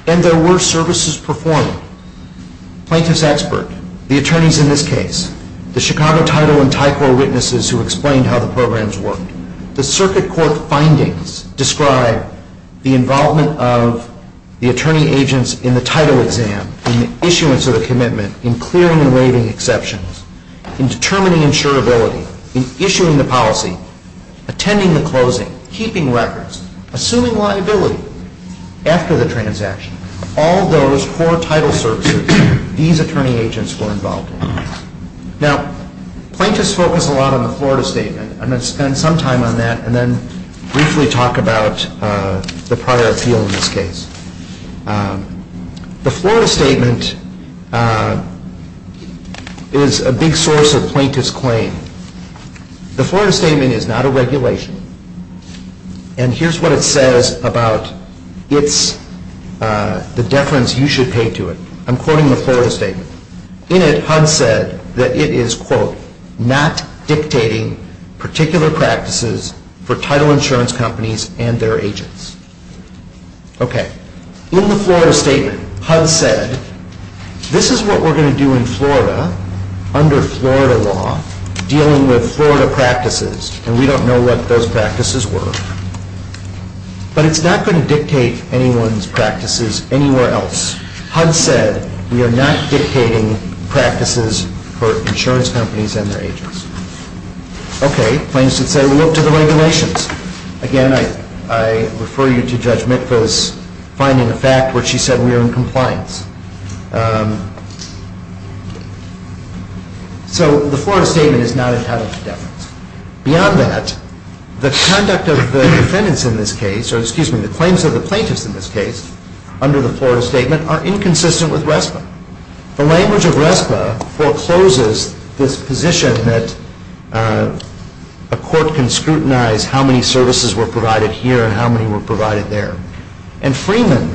And there were services performed. Plaintiff's expert, the attorneys in this case, the Chicago title and TICOR witnesses who explained how the programs work, the circuit court findings describe the involvement of the attorney agents in the title exam in the issuance of the commitment, in clearing and waiving exceptions, in determining insurability, in issuing the policy, attending the closing, keeping records, assuming liability. After the transaction, all those four title services, these attorney agents were involved. Now, plaintiffs focus a lot on the Florida State, and I'm going to spend some time on that and then briefly talk about the prior appeal in this case. The Florida Statement is a big source of plaintiff's claim. The Florida Statement is not a regulation. And here's what it says about the deference you should pay to it. I'm quoting the Florida Statement. It's not dictating particular practices for title insurance companies and their agents. Okay. In the Florida Statement, HUD said, this is what we're going to do in Florida under Florida law, dealing with Florida practices, and we don't know what those practices were. But it's not going to dictate anyone's practices anywhere else. HUD said, we are not dictating practices for insurance companies and their agents. Okay. Plaintiffs would say, well, look to the regulations. Again, I refer you to Judge Mikva's finding of fact, where she said we are in compliance. So, the Florida Statement is not entitled to deference. Beyond that, the conduct of the defendants in this case, excuse me, the claims of the plaintiffs in this case under the Florida Statement are inconsistent with RESPA. The language of RESPA forecloses this position that a court can scrutinize how many services were provided here and how many were provided there. And Freeman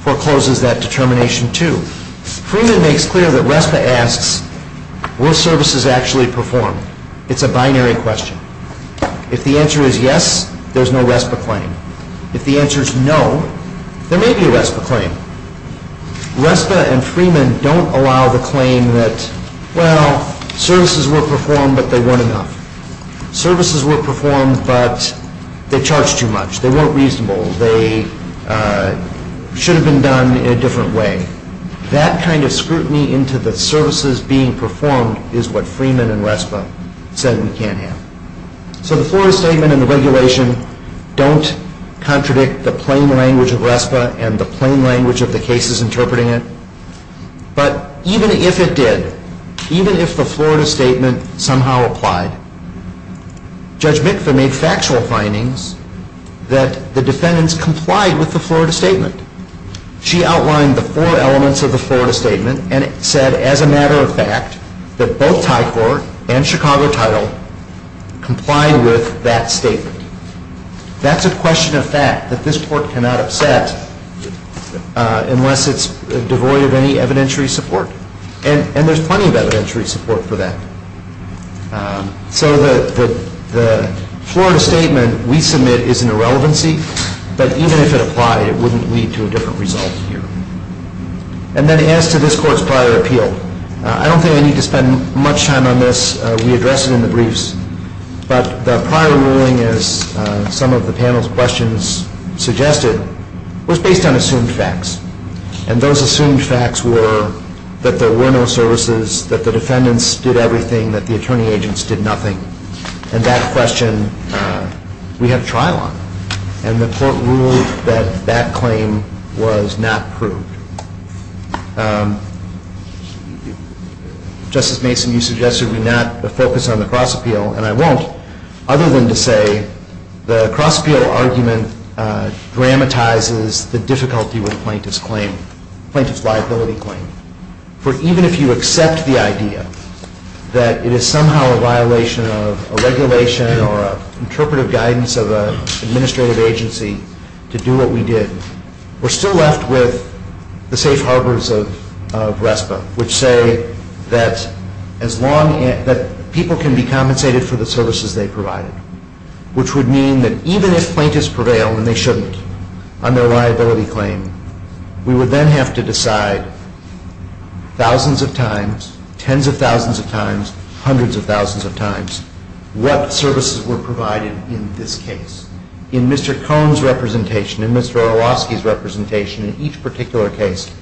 forecloses that determination, too. Freeman makes clear that RESPA asks, were services actually performed? It's a binary question. If the answer is yes, there's no RESPA claim. If the answer is no, there may be a RESPA claim. RESPA and Freeman don't allow the claim that, well, services were performed, but they weren't enough. Services were performed, but they charged too much. They weren't reasonable. They should have been done in a different way. That kind of scrutiny into the services being performed is what Freeman and RESPA said we can't have. So, the Florida Statement and the regulation don't contradict the plain language of RESPA and the plain language of the cases interpreting it. But even if it did, even if the Florida Statement somehow applied, Judge Mikva made factual findings that the defendants complied with the Florida Statement. She outlined the four elements of the Florida Statement and said, as a matter of fact, that both High Court and Chicago Title complied with that statement. That's a question of fact that this Court cannot accept unless it's devoid of any evidentiary support. And there's plenty of evidentiary support for that. So, the Florida Statement we submit is an irrelevancy, but even if it applied, it wouldn't lead to a different result here. And then as to this Court's prior appeal, I don't think I need to spend much time on this. We addressed it in the briefs. But the prior ruling, as some of the panel's questions suggested, was based on assumed facts. And those assumed facts were that there were no services, that the defendants did everything, that the attorney agents did nothing. And that question we had trial on. And the Court ruled that that claim was not proved. Justice Mason, you suggested we not focus on the cross-appeal, and I won't, other than to say the cross-appeal argument dramatizes the difficulty with Plaintiff's claim, Plaintiff's liability claim. For even if you accept the idea that it is somehow a violation of a regulation or interpretive guidance of an administrative agency to do what we did, we're still left with the safe harbors of RESPA, which say that people can be compensated for the services they provided, which would mean that even if plaintiffs prevail, and they shouldn't, on their liability claim, we would then have to decide thousands of times, tens of thousands of times, hundreds of thousands of times, what services were provided in this case. In Mr. Cohn's representation, in Mr. Orlowski's representation, in each particular case,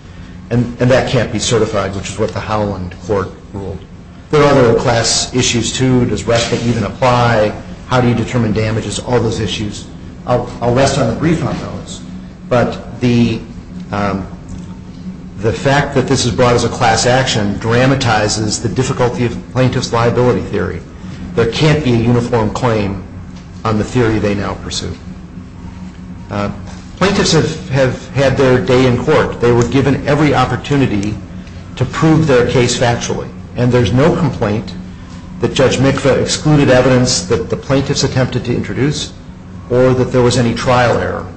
and that can't be certified, which is what the Holland Court ruled. There are no class issues, too. Does RESPA even apply? How do you determine damages? All those issues. I'll rest on a brief on those, but the fact that this is brought as a class action dramatizes the difficulty of Plaintiff's liability theory. There can't be a uniform claim on the theory they now pursue. Plaintiffs have had their day in court. They were given every opportunity to prove their case factually, and there's no complaint that Judge Mikva excluded evidence that the plaintiffs attempted to introduce or that there was any trial error.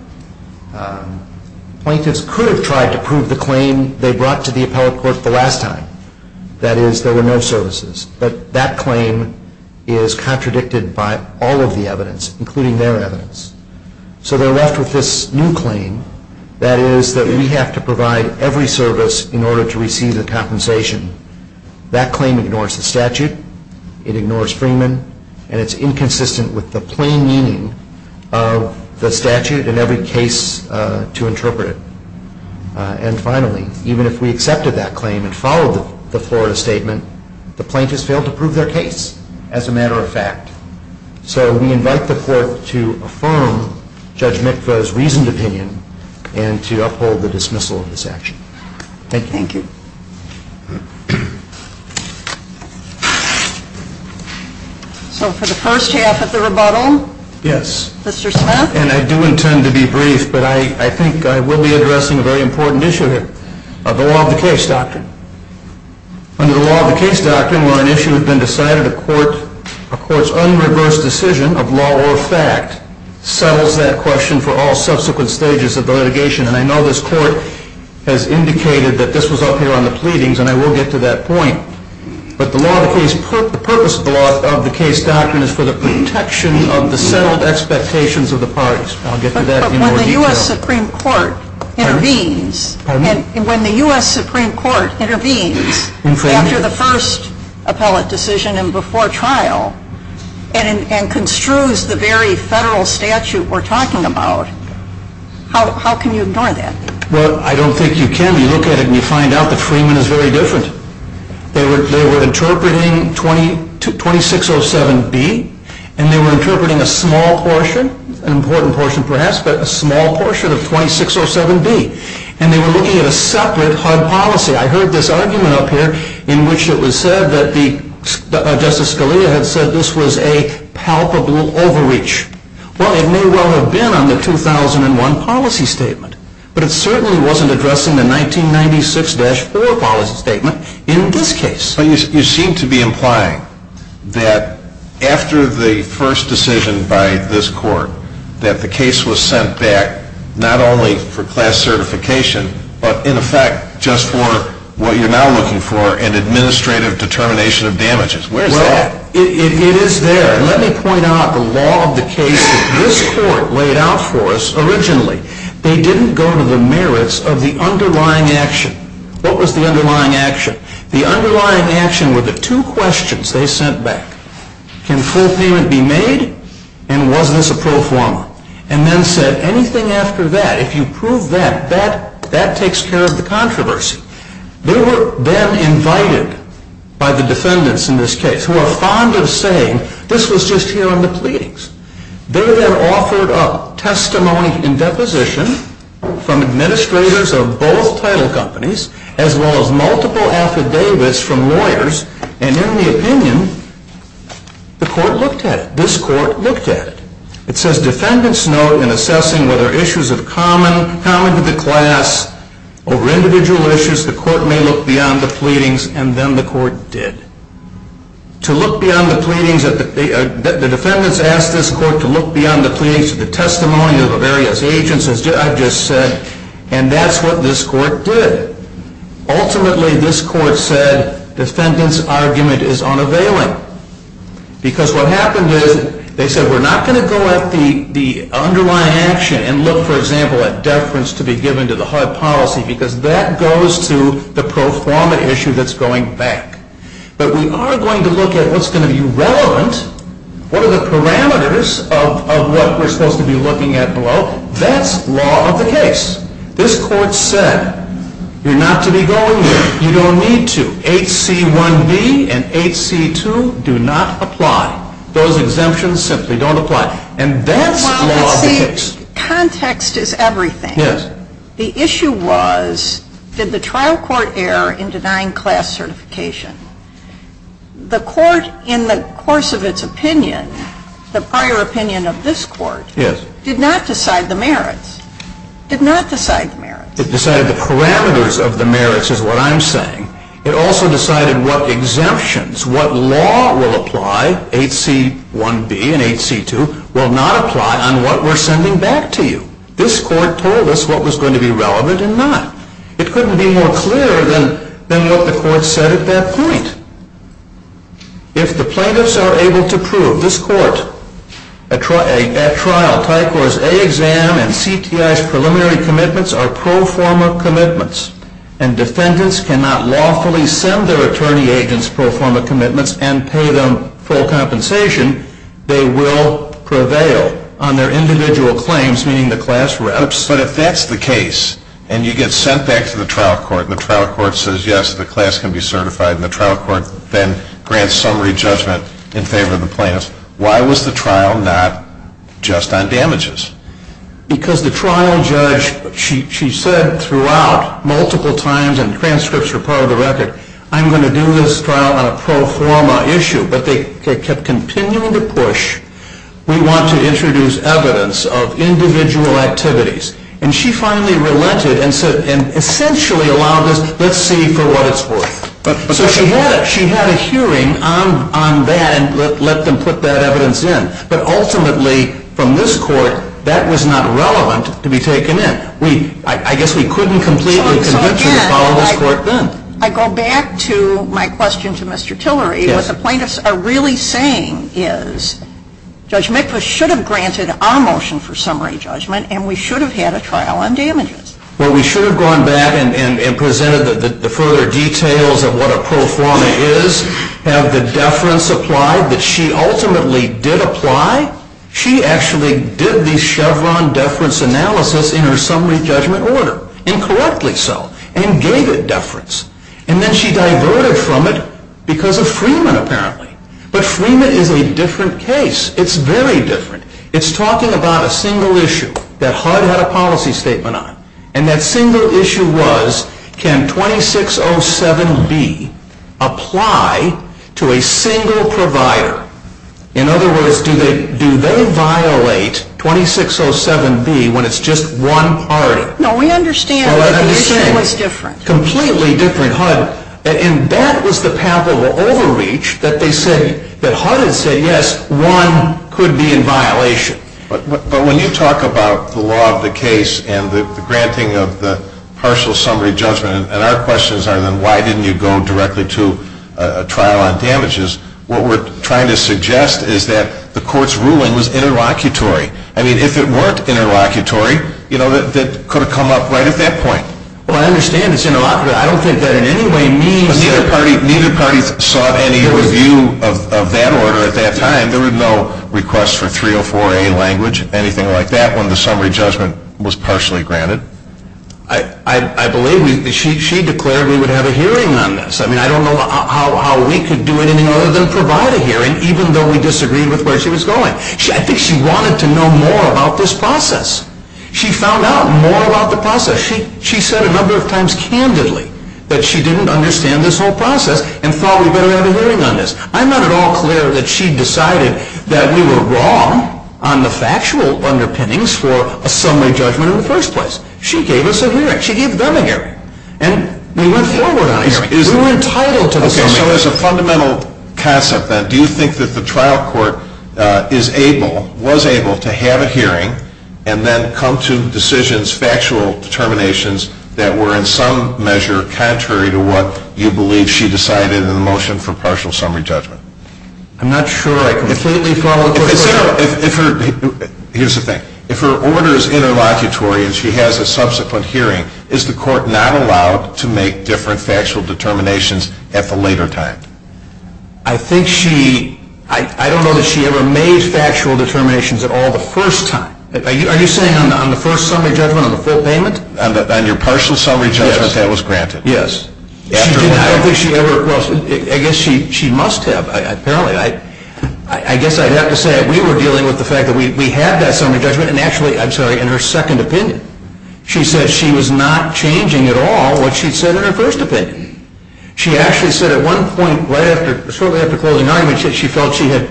Plaintiffs could have tried to prove the claim they brought to the appellate court the last time, that is, there were no services, but that claim is contradicted by all of the evidence, including their evidence. So they're left with this new claim, that is that we have to provide every service in order to receive the compensation. That claim ignores the statute. It ignores Freeman, and it's inconsistent with the plain meaning of the statute and every case to interpret it. And finally, even if we accepted that claim and followed the Florida statement, the plaintiffs failed to prove their case as a matter of fact. So we invite the court to affirm Judge Mikva's reasoned opinion and to uphold the dismissal of this action. Thank you. So for the first half of the rebuttal, Mr. Smith? Yes, and I do intend to be brief, but I think I will be addressing a very important issue of the law of the case doctrine. Under the law of the case doctrine, a court's own reverse decision of law or fact settles that question for all subsequent stages of the litigation, and I know this court has indicated that this was up here on the pleadings, and I will get to that point. But the purpose of the law of the case doctrine is for the protection of the self-expectations of the parties. I'll get to that in more detail. When the U.S. Supreme Court intervenes, after the first appellate decision and before trial, and construes the very federal statute we're talking about, how can you ignore that? Well, I don't think you can. You look at it and you find out that Freeman is very different. They were interpreting 2607B, and they were interpreting a small portion, an important portion perhaps, but a small portion of 2607B, and they were looking at a separate type of policy. I heard this argument up here in which it was said that Justice Scalia had said this was a palpable overreach. Well, it may well have been on the 2001 policy statement, but it certainly wasn't addressing the 1996-4 policy statement in this case. You seem to be implying that after the first decision by this court that the case was sent back not only for class certification, but in effect just for what you're now looking for, an administrative determination of damages. Well, it is there. Let me point out the law of the case that this court laid out for us originally. They didn't go to the merits of the underlying action. What was the underlying action? The underlying action were the two questions they sent back. Can full payment be made? And was this a pro forma? And then said anything after that, if you prove that, that takes care of the controversy. They were then invited by the defendants in this case, who are fond of saying this was just here in the pleadings. They were then offered up testimony in deposition from administrators of both title companies as well as multiple affidavits from lawyers, and in the opinion, the court looked at it. This court looked at it. It says defendants note in assessing whether issues of common to the class over individual issues, the court may look beyond the pleadings, and then the court did. The defendants asked this court to look beyond the pleadings to the testimony of the various agents, as I just said, and that's what this court did. Ultimately, this court said defendant's argument is unavailing because what happened is they said we're not going to go at the underlying action and look, for example, at deference to be given to the HUD policy because that goes to the pro forma issue that's going back. But we are going to look at what's going to be relevant, what are the parameters of what we're supposed to be looking at. Well, that's law of the case. This court said you're not to be going there. You don't need to. H.C. 1B and H.C. 2 do not apply. Those exemptions simply don't apply, and that's law of the case. Context is everything. Yes. The issue was did the trial court err in denying class certification? The court, in the course of its opinion, the prior opinion of this court, did not decide the merits, did not decide the merits. It decided the parameters of the merits is what I'm saying. It also decided what exemptions, what law will apply, H.C. 1B and H.C. 2, will not apply on what we're sending back to you. This court told us what was going to be relevant and not. It couldn't be more clear than what the court said at that point. If the plaintiffs are able to prove, this court, that trial type was A exam and CTI's preliminary commitments are pro forma commitments and defendants cannot lawfully send their attorney agents pro forma commitments and pay them full compensation, they will prevail on their individual claims, meaning the class reps. But if that's the case and you get sent back to the trial court and the trial court says yes, the class can be certified and the trial court then grants summary judgment in favor of the plaintiffs, why was the trial not just on damages? Because the trial judge, she said throughout multiple times in transcripts for part of the record, I'm going to do this trial on a pro forma issue. But they kept continuing to push, we want to introduce evidence of individual activities. And she finally relented and said, and essentially allowed us, let's see for what it's worth. So she had a hearing on that and let them put that evidence in. But ultimately, from this court, that was not relevant to be taken in. I guess we couldn't completely convince her to follow this court then. I go back to my question to Mr. Tillery. What the plaintiffs are really saying is Judge Medford should have granted our motion for summary judgment and we should have had a trial on damages. Well, we should have gone back and presented the further details of what a pro forma is, have the deference applied that she ultimately did apply. She actually did the Chevron deference analysis in her summary judgment order and corrected itself and gave it deference. And then she diverted from it because of Freeman apparently. But Freeman is a different case. It's very different. It's talking about a single issue that HUD had a policy statement on. And that single issue was, can 2607B apply to a single provider? In other words, do they violate 2607B when it's just one party? No, we understand that it's completely different. Completely different, HUD. And that was the path of overreach that HUD had said, yes, one could be in violation. But when you talk about the law of the case and the granting of the partial summary judgment, and our questions are then why didn't you go directly to a trial on damages, what we're trying to suggest is that the court's ruling was interlocutory. I mean, if it weren't interlocutory, you know, that could have come up right at that point. Well, I understand it's interlocutory. I don't think that in any way means that neither party sought any review of that order at that time. I mean, there was no request for 304A language, anything like that, when the summary judgment was partially granted. I believe she declared we would have a hearing on this. I mean, I don't know how we could do it any more than provide a hearing, even though we disagreed with where she was going. I think she wanted to know more about this process. She found out more about the process. She said a number of times candidly that she didn't understand this whole process and thought we better have a hearing on this. I'm not at all clear that she decided that we were wrong on the factual underpinnings for a summary judgment in the first place. She gave us a hearing. She gave them a hearing. And we went forward on a hearing. We were entitled to this hearing. Okay, so there's a fundamental concept then. Do you think that the trial court is able, was able, to have a hearing and then come to decisions, factual determinations, that were in some measure contrary to what you believe she decided in the motion for partial summary judgment? I'm not sure. I can definitely follow up on that. Here's the thing. If her order is interlocutory and she has a subsequent hearing, is the court not allowed to make different factual determinations at the later time? I think she, I don't know that she ever made factual determinations at all the first time. Are you saying on the first summary judgment on the full payment? On your partial summary judgment that was granted? Yes. I don't think she ever, well, I guess she must have. I guess I'd have to say we were dealing with the fact that we had that summary judgment and actually, I'm sorry, in her second opinion. She said she was not changing at all what she said in her first opinion. She actually said at one point right after, shortly after closing argument, she said she felt she had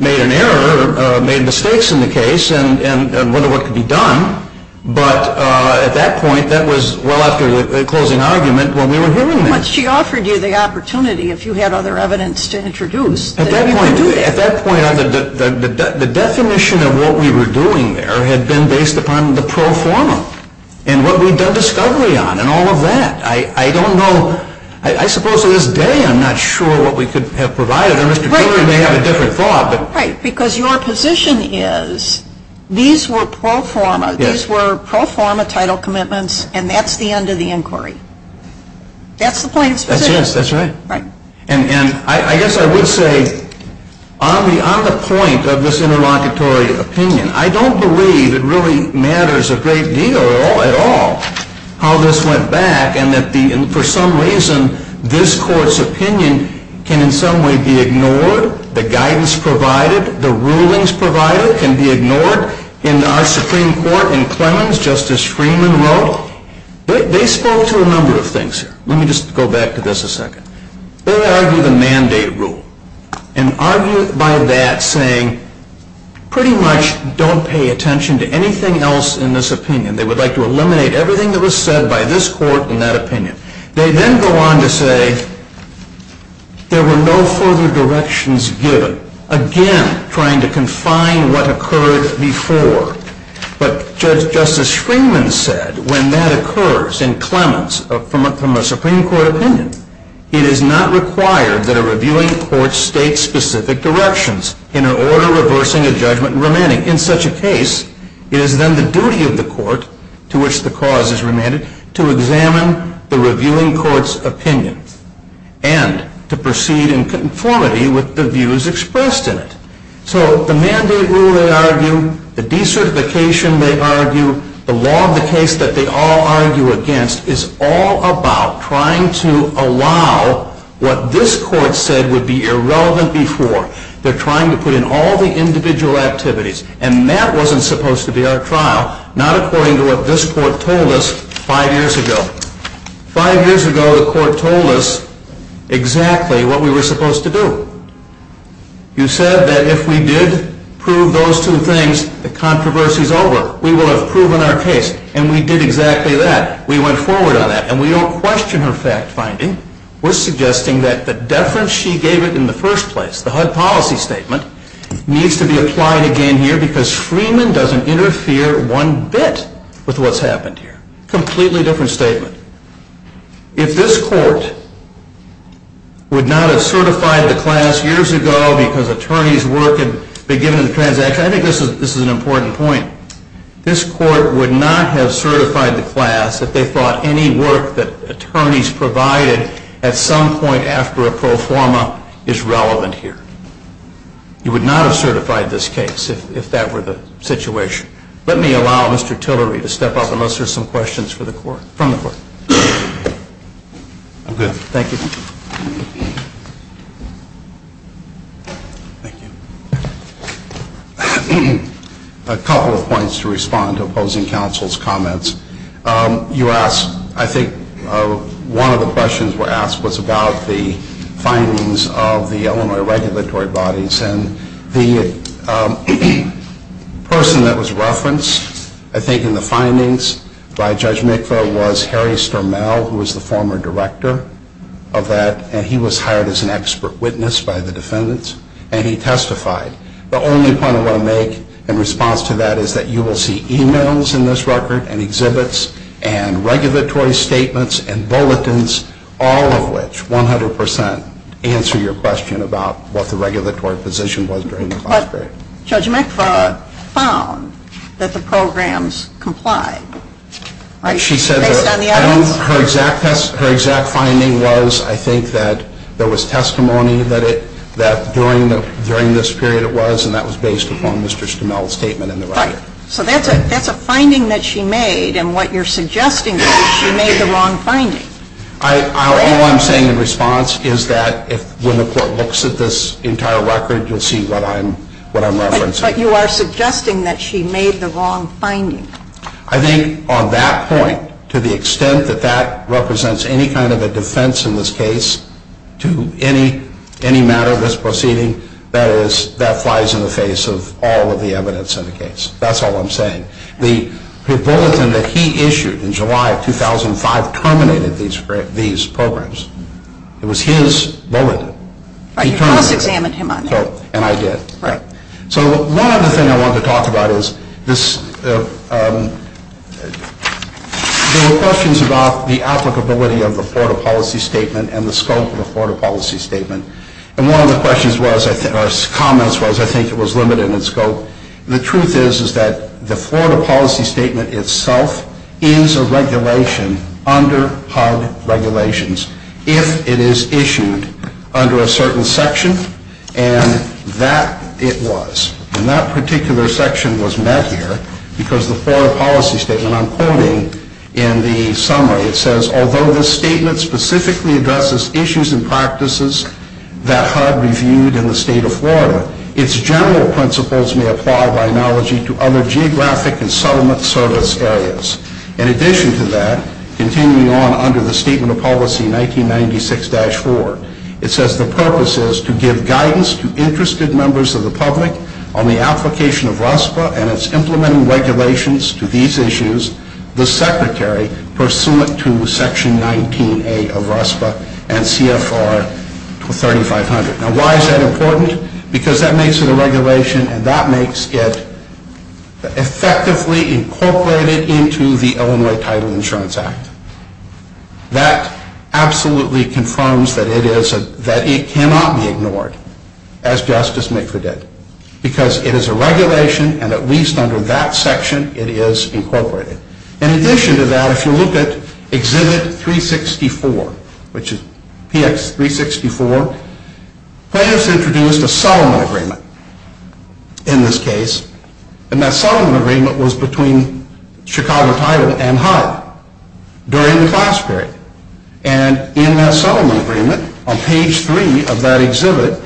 made an error or made mistakes in the case and wondered what could be done. But at that point, that was well after the closing argument when we were hearing this. But she offered you the opportunity if you had other evidence to introduce. At that point, the definition of what we were doing there had been based upon the pro forma and what we'd done discovery on and all of that. I don't know. I suppose to this day I'm not sure what we could have provided. And Mr. Bieler may have a different thought. Right, because your position is these were pro forma. These were pro forma title commitments, and that's the end of the inquiry. That's the kind of position. That's right. And I guess I would say on the point of this interlocutory opinion, I don't believe it really matters a great deal at all how this went back and that for some reason this court's opinion can in some way be ignored. The guidance provided, the rulings provided can be ignored in our Supreme Court and claims Justice Freeman wrote. They spoke to a number of things here. Let me just go back to this a second. They argued a mandate rule and argued by that saying pretty much don't pay attention to anything else in this opinion. They would like to eliminate everything that was said by this court in that opinion. They then go on to say there were no further directions given, again trying to confine what occurred before. But Justice Freeman said when that occurs in clemency from a Supreme Court opinion, it is not required that a reviewing court state specific directions in an order reversing a judgment and remanding. In such a case, it is then the duty of the court to which the cause is remanded to examine the reviewing court's opinion and to proceed in conformity with the views expressed in it. So the mandate rule they argue, the decertification they argue, the law of the case that they all argue against is all about trying to allow what this court said would be irrelevant before. They're trying to put in all the individual activities and that wasn't supposed to be our trial, not according to what this court told us five years ago. Five years ago, the court told us exactly what we were supposed to do. You said that if we did prove those two things, the controversy is over. We will have proven our case, and we did exactly that. We went forward on that, and we don't question her fact finding. We're suggesting that the deference she gave it in the first place, the HUD policy statement, needs to be applied again here because Freeman doesn't interfere one bit with what's happened here. Completely different statement. If this court would not have certified the class years ago because attorneys work in beginning transactions, I think this is an important point. This court would not have certified the class if they thought any work that attorneys provided at some point after a pro forma is relevant here. You would not have certified this case if that were the situation. Let me allow Mr. Tillery to step up, and let's hear some questions from the court. Good. Thank you. A couple of points to respond to opposing counsel's comments. You asked, I think one of the questions was asked, was about the findings of the Illinois regulatory bodies. The person that was referenced, I think, in the findings by Judge Mikva was Harry Stormell, who was the former director of that, and he was hired as an expert witness by the defendants, and he testified. The only point I want to make in response to that is that you will see e-mails in this record and exhibits and regulatory statements and bulletins, all of which 100% answer your question about what the regulatory position was during this period. Judge Mikva found that the programs complied. She said her exact finding was, I think, that there was testimony that during this period it was, and that was based upon Mr. Stormell's statement in the record. So that's a finding that she made, and what you're suggesting is she made the wrong finding. All I'm saying in response is that when the court looks at this entire record, you'll see what I'm referencing. But you are suggesting that she made the wrong finding. I think on that point, to the extent that that represents any kind of a defense in this case to any matter of this proceeding, that applies in the face of all of the evidence in the case. That's all I'm saying. The bulletin that he issued in July of 2005 terminated these programs. It was his bulletin. He turned it in. And I did. So one other thing I wanted to talk about is this. There were questions about the applicability of a Florida policy statement and the scope of a Florida policy statement. And one of the questions was, or comments was, I think it was limited in scope. The truth is that the Florida policy statement itself is a regulation under HUD regulations if it is issued under a certain section, and that it was. And that particular section was met here because the Florida policy statement, although the statement specifically addresses issues and practices that HUD reviewed in the state of Florida, its general principles may apply by analogy to other geographic and settlement service areas. In addition to that, continuing on under the Statement of Policy 1996-4, it says the purpose is to give guidance to interested members of the public on the application of RASPA and its implementing regulations to these issues, the Secretary pursuant to Section 19A of RASPA and CFR 3500. Now, why is that important? Because that makes it a regulation and that makes it effectively incorporated into the Illinois Title Insurance Act. That absolutely confirms that it cannot be ignored, as justice may predict, because it is a regulation, and at least under that section, it is incorporated. In addition to that, if you look at Exhibit 364, which is PX 364, planners introduced a settlement agreement in this case, and that settlement agreement was between Chicago Title and HUD during the class period. And in that settlement agreement, on page 3 of that exhibit,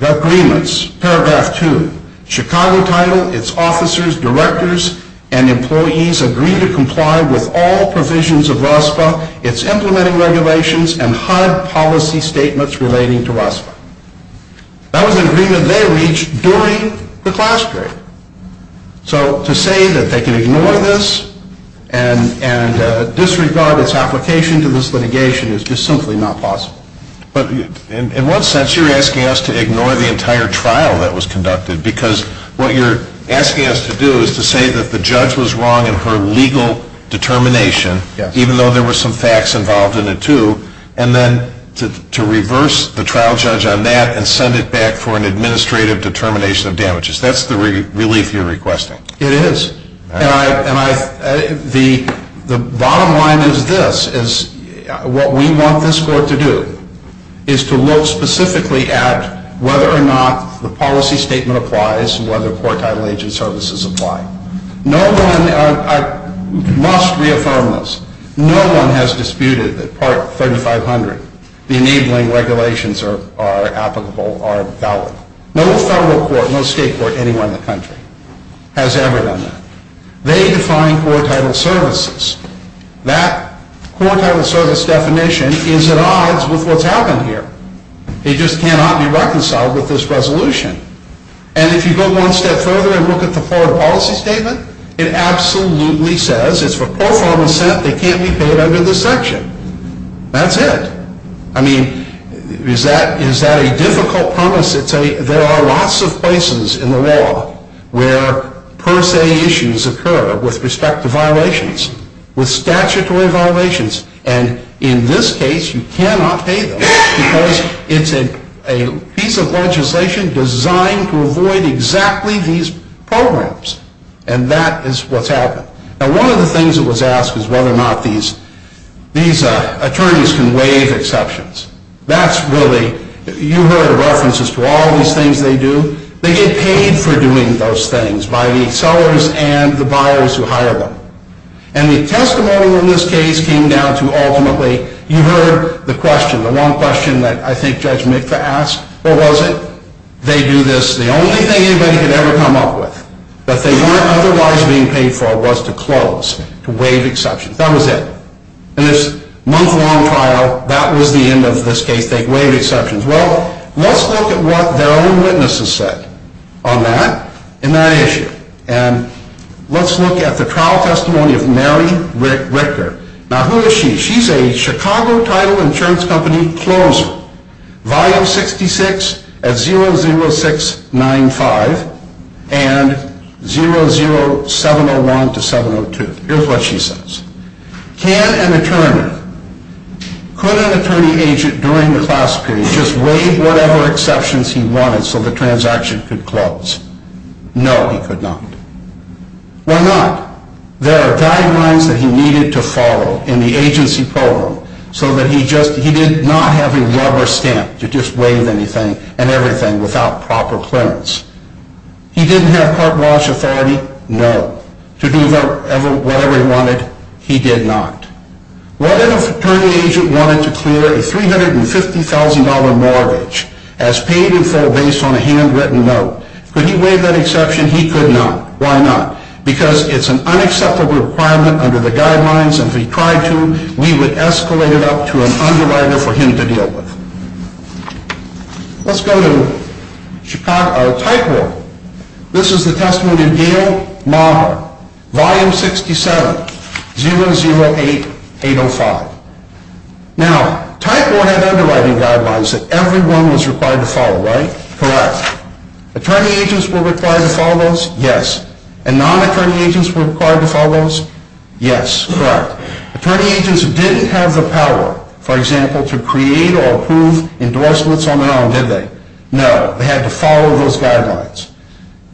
the agreements, Paragraph 2, Chicago Title, its officers, directors, and employees agree to comply with all provisions of RASPA, its implementing regulations, and HUD policy statements relating to RASPA. That was an agreement they reached during the class period. So to say that they can ignore this and disregard its application to this litigation is just simply not possible. But in one sense, you're asking us to ignore the entire trial that was conducted, because what you're asking us to do is to say that the judge was wrong in her legal determination, even though there were some facts involved in it too, and then to reverse the trial judge on that and send it back for an administrative determination of damages. That's the relief you're requesting. It is. And the bottom line is this, is what we want this court to do, is to look specifically at whether or not the policy statement applies and whether court title agent services apply. No one, I must reaffirm this, no one has disputed that Part 3500, the enabling regulations are applicable, are valid. No federal court, no state court anywhere in the country has ever done that. They define court title services. That court title service definition is at odds with what's happened here. It just cannot be reconciled with this resolution. And if you go one step further and look at the part of the policy statement, it absolutely says it's for pro forma assent that can't be paid under this section. That's it. I mean, is that a difficult promise? There are lots of places in the world where per se issues occur with respect to violations, with statutory violations, and in this case you cannot pay them because it's a piece of legislation designed to avoid exactly these problems, and that is what's happened. Now, one of the things that was asked is whether or not these attorneys can waive exceptions. That's really, you heard references to all these things they do. They get paid for doing those things by the sellers and the buyers who hire them. And the testimony in this case came down to ultimately, you heard the question, the one question that I think Judge Mitka asked, or was it? They do this, the only thing anybody could ever come up with that they weren't otherwise being paid for was to close, to waive exceptions. That was it. In this month-long trial, that was the end of this case. They waived exceptions. Well, let's look at what their own witnesses said on that in that issue, and let's look at the trial testimony of Mary Richter. Now, who is she? She's a Chicago title insurance company closer, File 66, 00695, and 00701-702. Here's what she says. Can an attorney, could an attorney agent during the class period just waive whatever exceptions he wanted so the transaction could close? No, he could not. Why not? There are guidelines that he needed to follow in the agency program so that he did not have a rubber stamp to just waive anything and everything without proper clearance. He didn't have cart wash authority? No. To do whatever he wanted? He did not. What if an attorney agent wanted to clear a $350,000 mortgage as paid in full based on a handwritten note? Could he waive that exception? He could not. Why not? Because it's an unacceptable requirement under the guidelines, and if he tried to, we would escalate it up to an underwriter for him to deal with. Let's go to Chicago Title. This is the testimony of Dale Maher, Volume 67, 008805. Now, Title had underwriting guidelines that everyone was required to follow, right? Correct. Attorney agents were required to follow those? Yes. And non-attorney agents were required to follow those? Yes. Correct. Attorney agents didn't have the power, for example, to create or approve endorsements on their own, did they? No. They had to follow those guidelines.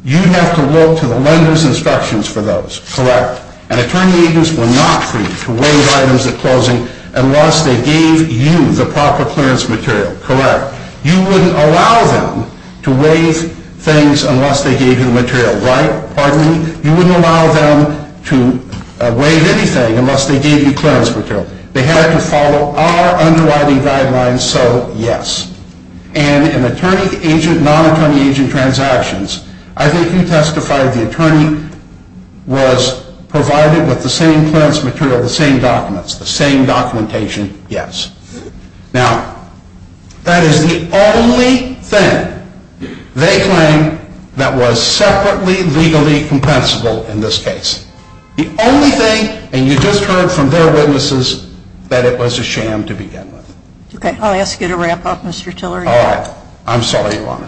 You'd have to look to the lender's instructions for those. Correct. And attorney agents were not free to waive items at closing unless they gave you the proper clearance material. Correct. You wouldn't allow them to waive things unless they gave you the material, right? Pardon me? You wouldn't allow them to waive anything unless they gave you clearance material. They had to follow our underwriting guidelines, so yes. And in non-attorney agent transactions, I think you testified the attorney was provided with the same clearance material, the same documents, the same documentation, yes. Now, that is the only thing they claim that was separately legally compensable in this case. The only thing, and you just heard from their witnesses, that it was a sham to begin with. Okay, I'll ask you to wrap up, Mr. Tillery. All right. I'm sorry, Lana.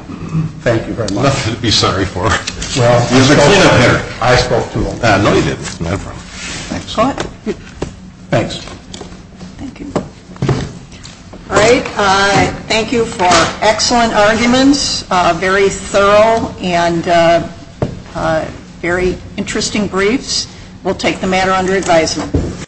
Thank you very much. You'd be sorry for us. Well, I spoke to them. No, you didn't. No problem. Thanks. Thank you. All right. Thank you for excellent arguments, very thorough and very interesting briefs. We'll take the matter under advisement.